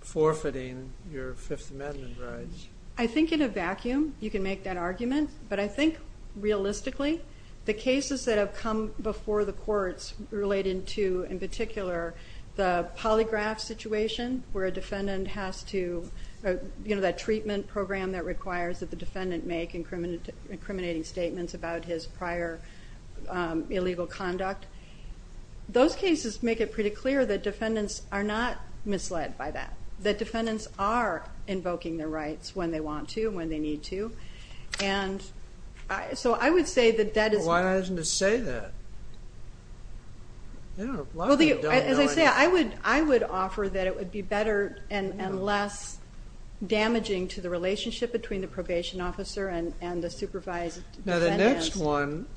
forfeiting your Fifth Amendment rights? I think in a vacuum you can make that argument, but I think, realistically, the cases that have come before the courts relating to, in particular, the polygraph situation, where a defendant has to... You know, that treatment program that requires that the defendant make incriminating statements about his prior illegal conduct. Those cases make it pretty clear that defendants are not misled by that, that defendants are invoking their rights when they want to, when they need to, and so I would say that that is... Well, why hasn't it said that? You know, a lot of people don't know... As I say, I would offer that it would be better and less damaging to the relationship between the probation officer and the supervised defendant. Now, the next one,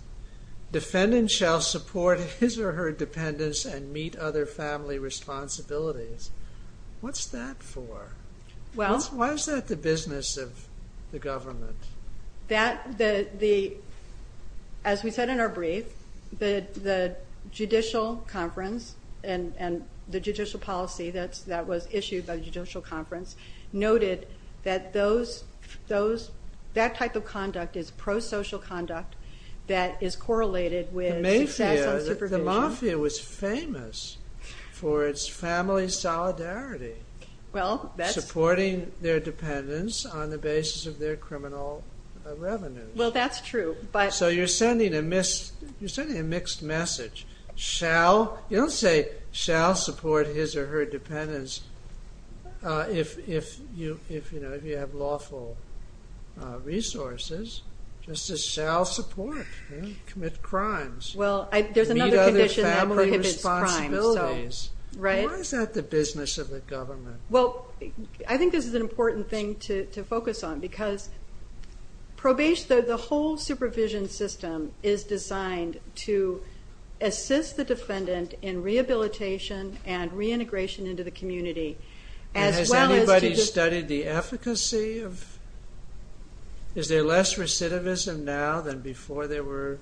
defendant shall support his or her dependents and meet other family responsibilities. What's that for? Why is that the business of the government? As we said in our brief, the judicial conference and the judicial policy that was issued by the judicial conference noted that that type of conduct is pro-social conduct that is correlated with... The mafia was famous for its family solidarity. Well, that's... Supporting their dependents on the basis of their criminal revenues. Well, that's true, but... So you're sending a mixed message. You don't say, shall support his or her dependents if you have lawful resources. Just say, shall support, commit crimes. Well, there's another condition that prohibits crime. Why is that the business of the government? Well, I think this is an important thing to focus on because the whole supervision system is designed to assist the defendant in rehabilitation and reintegration into the community. And has anybody studied the efficacy of... Is there less recidivism now than before there were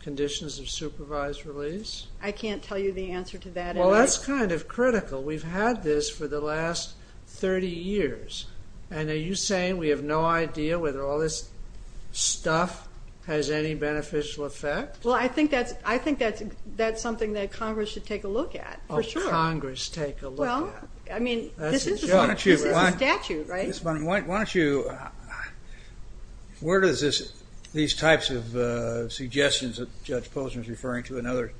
conditions of supervised release? I can't tell you the answer to that. Well, that's kind of critical. We've had this for the last 30 years. And are you saying we have no idea whether all this stuff has any beneficial effect? Well, I think that's something that Congress should take a look at, for sure. Oh, Congress take a look at. Well, I mean, this is a statute, right? Why don't you... Where is this... These types of suggestions that Judge Posner is referring to and others.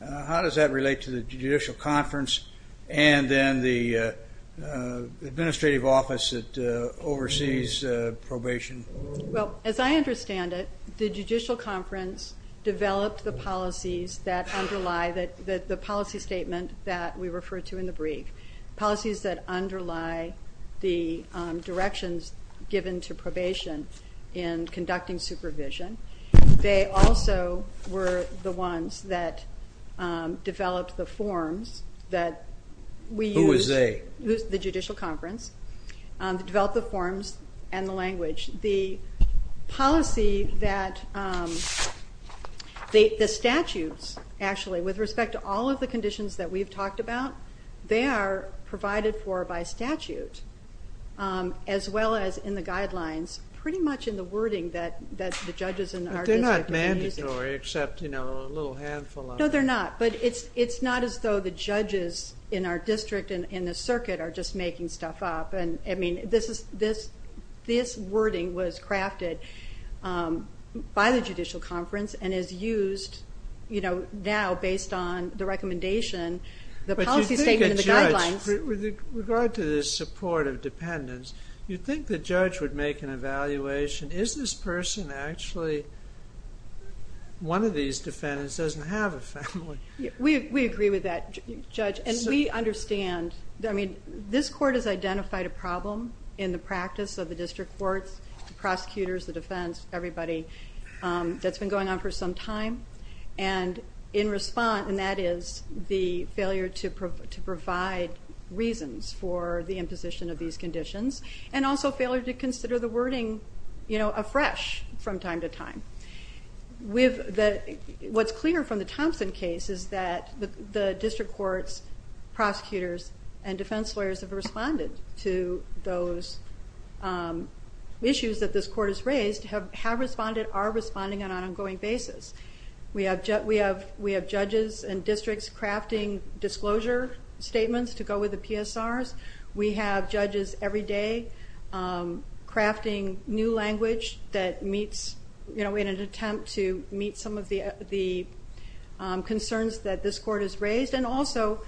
How does that relate to the Judicial Conference and then the administrative office that oversees probation? Well, as I understand it, the Judicial Conference developed the policies that underlie the policy statement that we refer to in the brief, policies that underlie the directions given to probation in conducting supervision. They also were the ones that developed the forms that we used... Who was they? The Judicial Conference, developed the forms and the language. The policy that... The statutes, actually, with respect to all of the conditions that we've talked about, as well as in the guidelines, pretty much in the wording that the judges in our district are using. They're not mandatory, except, you know, a little handful of them. No, they're not, but it's not as though the judges in our district and in the circuit are just making stuff up. I mean, this wording was crafted by the Judicial Conference and is used, you know, now based on the recommendation, the policy statement and the guidelines. With regard to the support of dependents, you'd think the judge would make an evaluation. Is this person actually... One of these defendants doesn't have a family? We agree with that, Judge, and we understand... I mean, this court has identified a problem in the practice of the district courts, the prosecutors, the defense, everybody, that's been going on for some time, and in response, and that is the failure to provide reasons for the imposition of these conditions and also failure to consider the wording, you know, afresh from time to time. What's clear from the Thompson case is that the district courts, prosecutors, and defense lawyers have responded to those issues that this court has raised, have responded, are responding on an ongoing basis. We have judges and districts crafting disclosure statements to go with the PSRs. We have judges every day crafting new language that meets, you know, in an attempt to meet some of the concerns that this court has raised and also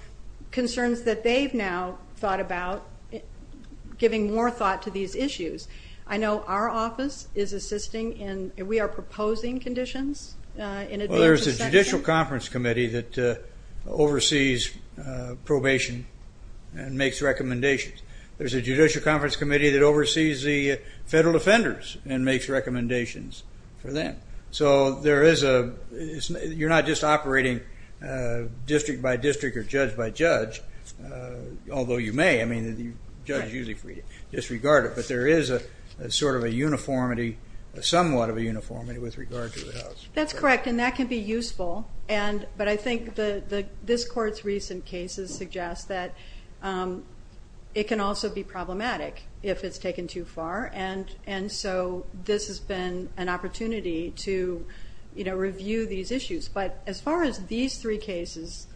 concerns that they've now thought about giving more thought to these issues. I know our office is assisting and we are proposing conditions... Well, there's a judicial conference committee that oversees probation and makes recommendations. There's a judicial conference committee that oversees the federal defenders and makes recommendations for them. So there is a... You're not just operating district by district or judge by judge, although you may. I mean, the judge usually can disregard it, but there is a sort of a uniformity, somewhat of a uniformity with regard to the house. That's correct, and that can be useful, but I think this court's recent cases suggest that it can also be problematic if it's taken too far, and so this has been an opportunity to, you know, review these issues. But as far as these three cases...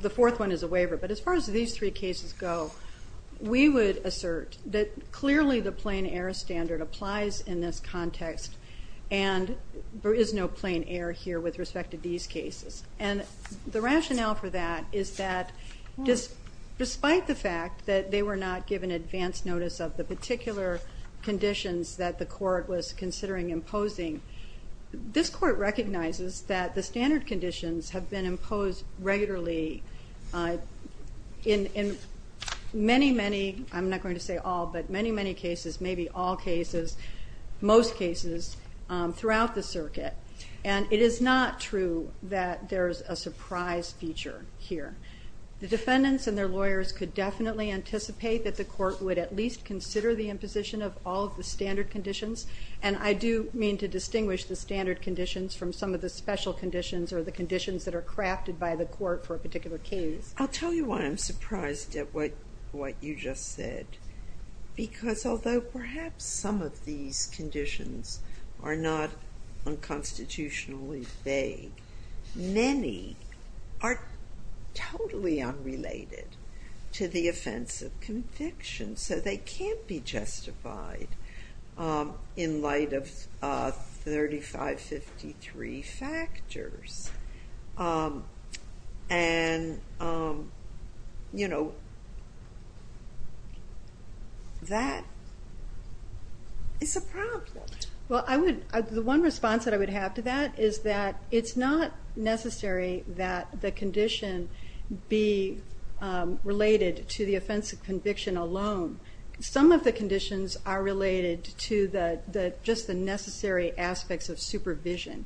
The fourth one is a waiver, but as far as these three cases go, we would assert that clearly the plain error standard applies in this context and there is no plain error here with respect to these cases. And the rationale for that is that despite the fact that they were not given advance notice of the particular conditions that the court was considering imposing, this court recognizes that the standard conditions have been imposed regularly in many, many... I'm not going to say all, but many, many cases, maybe all cases, most cases, throughout the circuit. And it is not true that there's a surprise feature here. The defendants and their lawyers could definitely anticipate that the court would at least consider the imposition of all of the standard conditions, and I do mean to distinguish the standard conditions from some of the special conditions or the conditions that are crafted by the court for a particular case. I'll tell you why I'm surprised at what you just said, because although perhaps some of these conditions are not unconstitutionally vague, many are totally unrelated to the offense of conviction, so they can't be justified in light of 3553 factors. And, you know, that is a problem. Well, the one response that I would have to that is that it's not necessary that the condition be related to the offense of conviction alone. Some of the conditions are related to just the necessary aspects of supervision.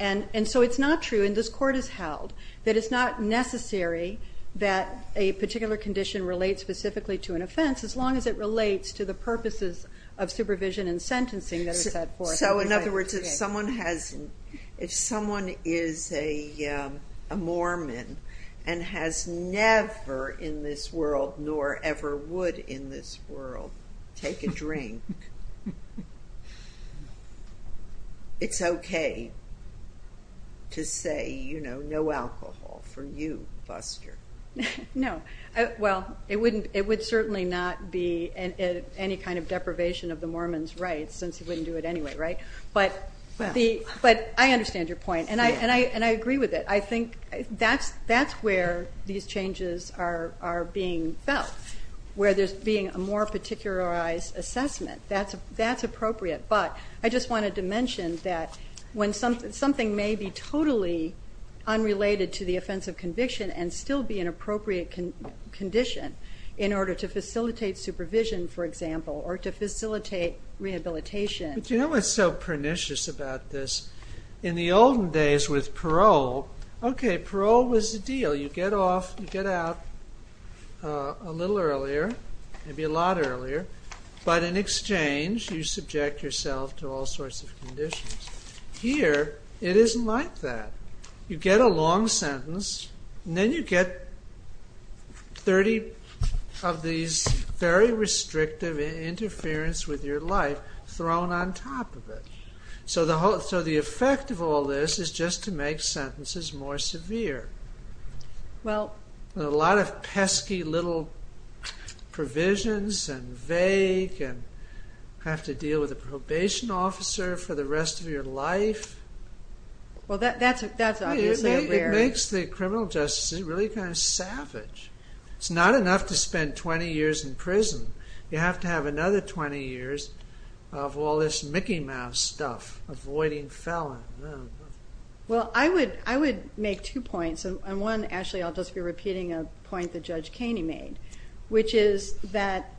And so it's not true, and this court has held, that it's not necessary that a particular condition relate specifically to an offense as long as it relates to the purposes of supervision and sentencing that is set forth. So, in other words, if someone is a Mormon and has never in this world, nor ever would in this world, take a drink, it's okay to say, you know, no alcohol for you, buster. No. Well, it would certainly not be any kind of deprivation of the Mormon's rights since he wouldn't do it anyway, right? But I understand your point, and I agree with it. I think that's where these changes are being felt, where there's being a more particularized assessment. That's appropriate, but I just wanted to mention that when something may be totally unrelated to the offense of conviction and still be an appropriate condition in order to facilitate supervision, for example, or to facilitate rehabilitation. But you know what's so pernicious about this? In the olden days with parole, okay, parole was the deal. You get off, you get out a little earlier, maybe a lot earlier, but in exchange, you subject yourself to all sorts of conditions. Here, it isn't like that. You get a long sentence, and then you get 30 of these very restrictive interference with your life thrown on top of it. So the effect of all this is just to make sentences more severe. A lot of pesky little provisions and vague and have to deal with a probation officer for the rest of your life. Well, that's obviously there. It makes the criminal justice really kind of savage. It's not enough to spend 20 years in prison. You have to have another 20 years of all this Mickey Mouse stuff, avoiding felon. Well, I would make two points. On one, actually, I'll just be repeating a point that Judge Kaney made, which is that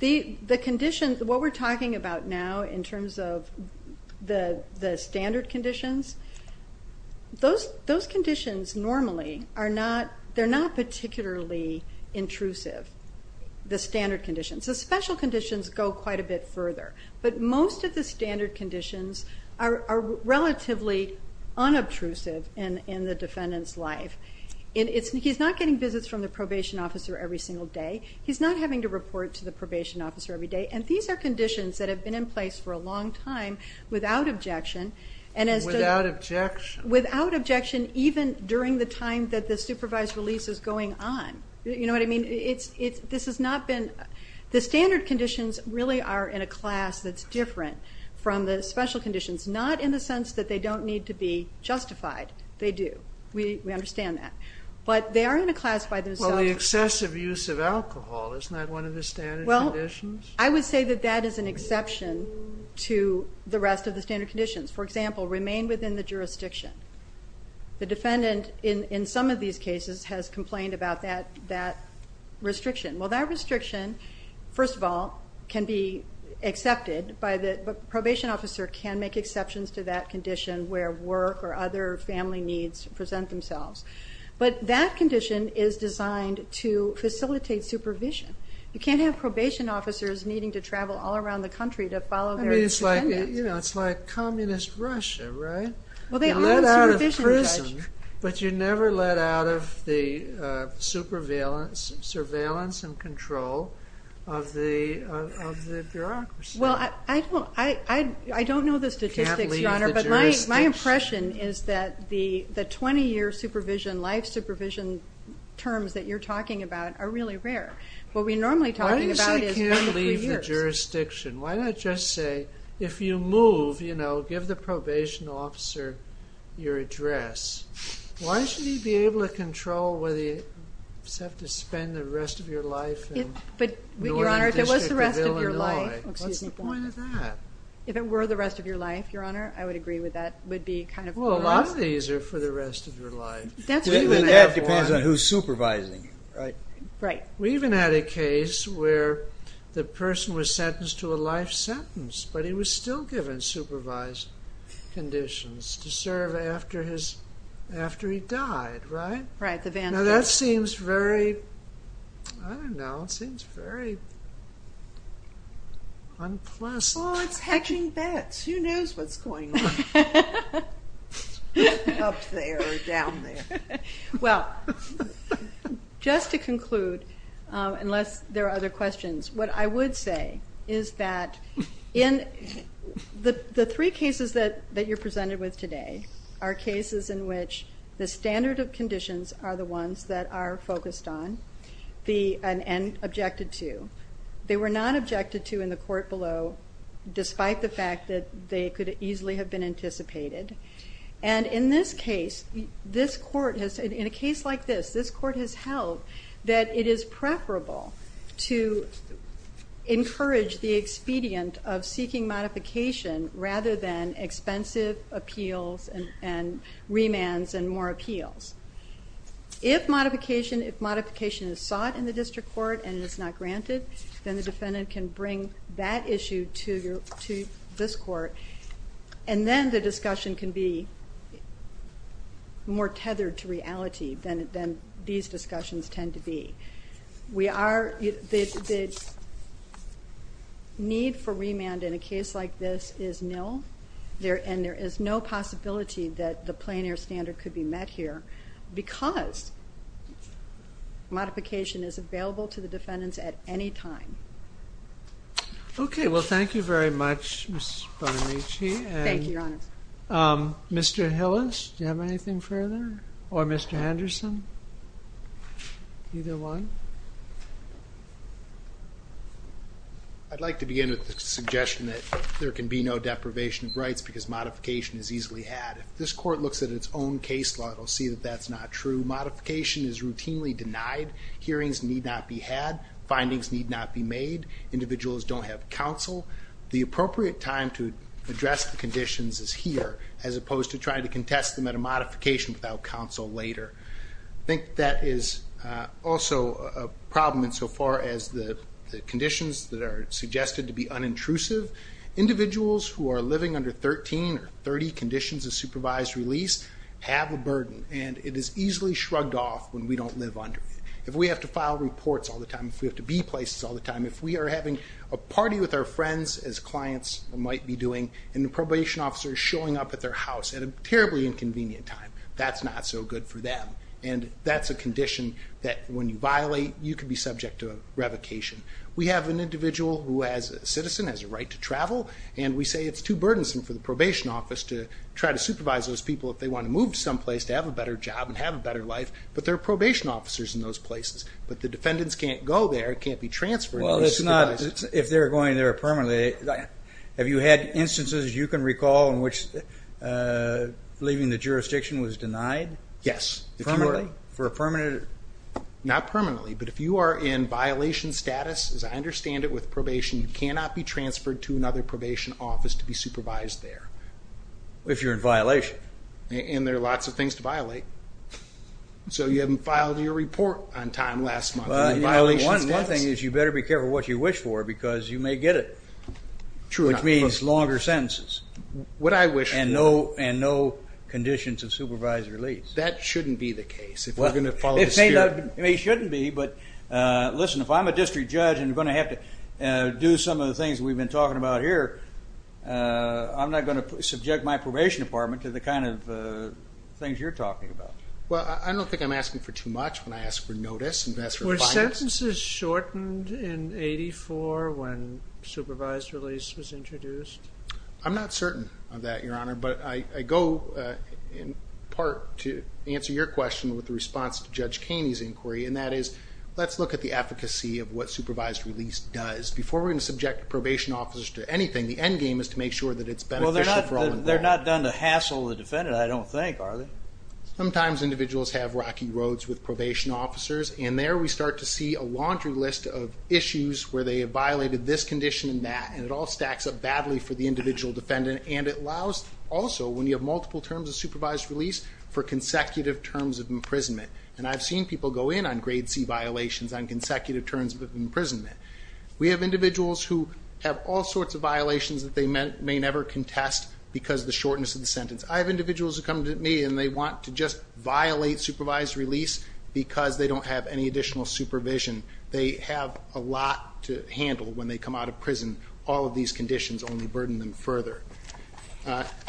the conditions, what we're talking about now in terms of the standard conditions, those conditions normally are not particularly intrusive, the standard conditions. The special conditions go quite a bit further. But most of the standard conditions are relatively unobtrusive in the defendant's life. He's not getting visits from the probation officer every single day. He's not having to report to the probation officer every day. And these are conditions that have been in place for a long time without objection. Without objection? Without objection, even during the times that the supervised release is going on. You know what I mean? This has not been... The standard conditions really are in a class that's different from the special conditions, not in the sense that they don't need to be justified. They do. We understand that. But they are in a class by themselves. Well, the excessive use of alcohol is not one of the standard conditions? Well, I would say that that is an exception to the rest of the standard conditions for example, remain within the jurisdiction. The defendant in some of these cases has complained about that restriction. Well, that restriction, first of all, can be accepted by the probation officer can make exceptions to that condition where work or other family needs present themselves. But that condition is designed to facilitate supervision. You can't have probation officers needing to travel all around the country to follow their defendant. I mean, it's like communist Russia, right? Well, they are in the jurisdiction. But you're never let out of the surveillance and control of the bureaucracy. Well, I don't know the statistics, Your Honor, but my impression is that the 20-year supervision, life supervision terms that you're talking about are really rare. What we're normally talking about is the three years. Why not just say if you move, you know, give the probation officer your address. Why should he be able to control whether he has to spend the rest of your life in New Orleans District for the rest of your life? What's the point of that? If it were the rest of your life, Your Honor, I would agree with that. Well, a lot of these are for the rest of your life. That depends on who's supervising. Right. We even had a case where the person was sentenced to a life sentence, but he was still given supervised conditions to serve after he died. Right? Right. Now that seems very, I don't know, it seems very unpleasant. Well, it's hatching bats. Who knows what's going on? unless there are other questions, what I would say is that in, in New Orleans District, there's a lot of people who are working in the New Orleans District. The three cases that you're presented with today are cases in which the standard of conditions are the ones that are focused on and objected to. They were not objected to in the court below, despite the fact that they could easily have been anticipated. And in this case, this court has, in a case like this, this court has held that it is preferable to encourage the expedient of seeking modification rather than expensive appeals and remands and more appeals. If modification, if modification is sought in the district court and is not granted, then the defendant can bring that issue to this court and then the discussion can be more tethered to reality than these discussions tend to be. We are, the need for remand in a case like this is nil, and there is no possibility that the plein air standard could be met here because modification is available to the defendants at any time. Thank you. Okay. Well, thank you very much, Ms. Bonamici. Thank you, Your Honor. Mr. Hillis, do you have anything further? Or Mr. Henderson? Either one? I'd like to begin with the suggestion that there can be no deprivation of rights because modification is easily had. If this court looks at its own case law, it'll see that that's not true. Modification is routinely denied. Hearings need not be had. Findings need not be made. Individuals don't have counsel. The appropriate time to address the conditions is here, as opposed to trying to contest them at a modification without counsel later. I think that is also a problem insofar as the conditions that are suggested to be unintrusive. Individuals who are living under 13 or 30 conditions of supervised release have a burden and it is easily shrugged off when we don't live under it. If we have to file reports all the time, if we are having a party with our friends, and the probation officer is showing up at their house, that is not so good for them. We have an individual who has the right to travel and we say it is too burdensome to try to supervise those people if they want to move someplace to have a better job, but there are probation officers in those places. If they are going there permanently, have you had instances in which leaving the jurisdiction was denied? Yes. Not permanently, but if you are in violation status, you cannot be transferred to another probation office to do that. You have lots of things to violate. You have not filed your report on time last month. You better be careful what you wish for because you may get it, longer sentences, and no conditions of supervised release. That should not be the case. If I am a district judge and going to have to do some of the things we have been talking about here, I am not going to subject my probation department to the kind of things you are talking about. Were sentences shortened in 1984 when supervised release was introduced? I am not certain of that, but I think it should be done. Sometimes individuals have rocky roads with probation officers and there we start to see a laundry list of issues where they have violated this condition and that. It stacks up badly for the individual defendant. I have seen people go in on consecutive terms of imprisonment. We have individuals who have all sorts of violations because of the shortness of the sentence. I have individuals who want to violate supervised release because they don't have additional supervision. It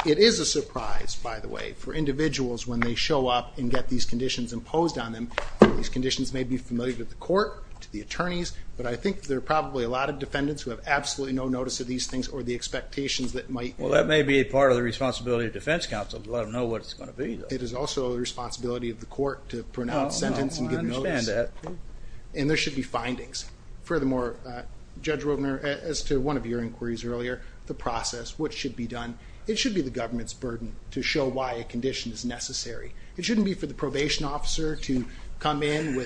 is a surprise for individuals when they show up and get these conditions imposed on them. I think there are probably a lot of defendants who have absolutely no notice of these things. It is also the responsibility of the court. There should be findings. As to one of your inquiries earlier, it should be the government's burden to show why a condition is necessary. It shouldn't be for the probation officer to come in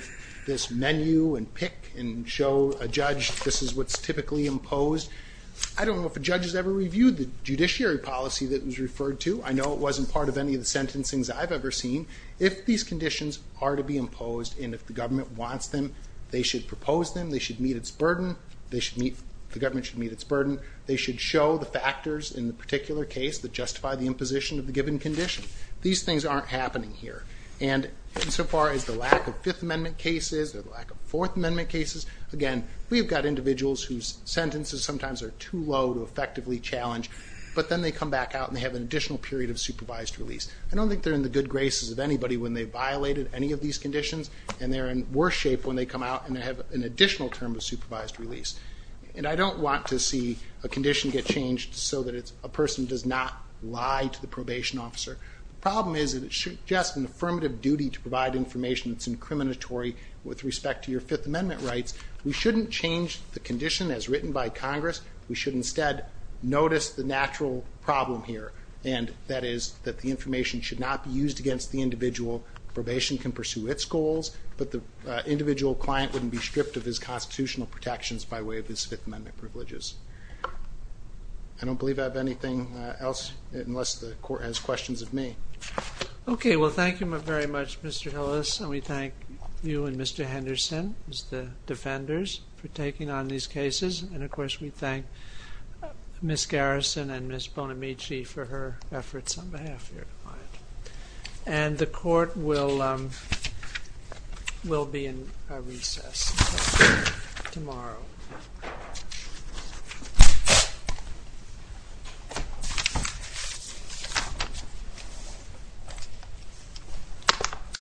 and show a judge this is what is typically imposed. I don't know if a judge has ever reviewed the judiciary policy. If these conditions are to be them, they should show the factors in the particular case that justify the imposition of the given condition. These things aren't happening here. Again, we have individuals whose sentences are too low to effectively challenge. I don't think they are in the good graces of anybody when they violated any of these conditions. I don't want to see a condition get changed so that a person does not lie to the probation officer. The problem is it suggests an affirmative duty to provide information that is incriminatory with respect to your Fifth Amendment rights. We shouldn't change the condition as written by Congress. We should instead notice the natural problem here. That is, the information should not be used against the individual. Probation can pursue its goals, but the individual client wouldn't be stripped of his constitutional protections. I don't believe I have anything else unless the court has questions of me. Okay. Well, thank you very much, Mr. Hillis. We thank you and Mr. Henderson as the defenders for taking on these cases. Of course, we thank Ms. Garrison and Ms. Bonamici for her efforts on behalf of your client. The court will be having a recess tomorrow.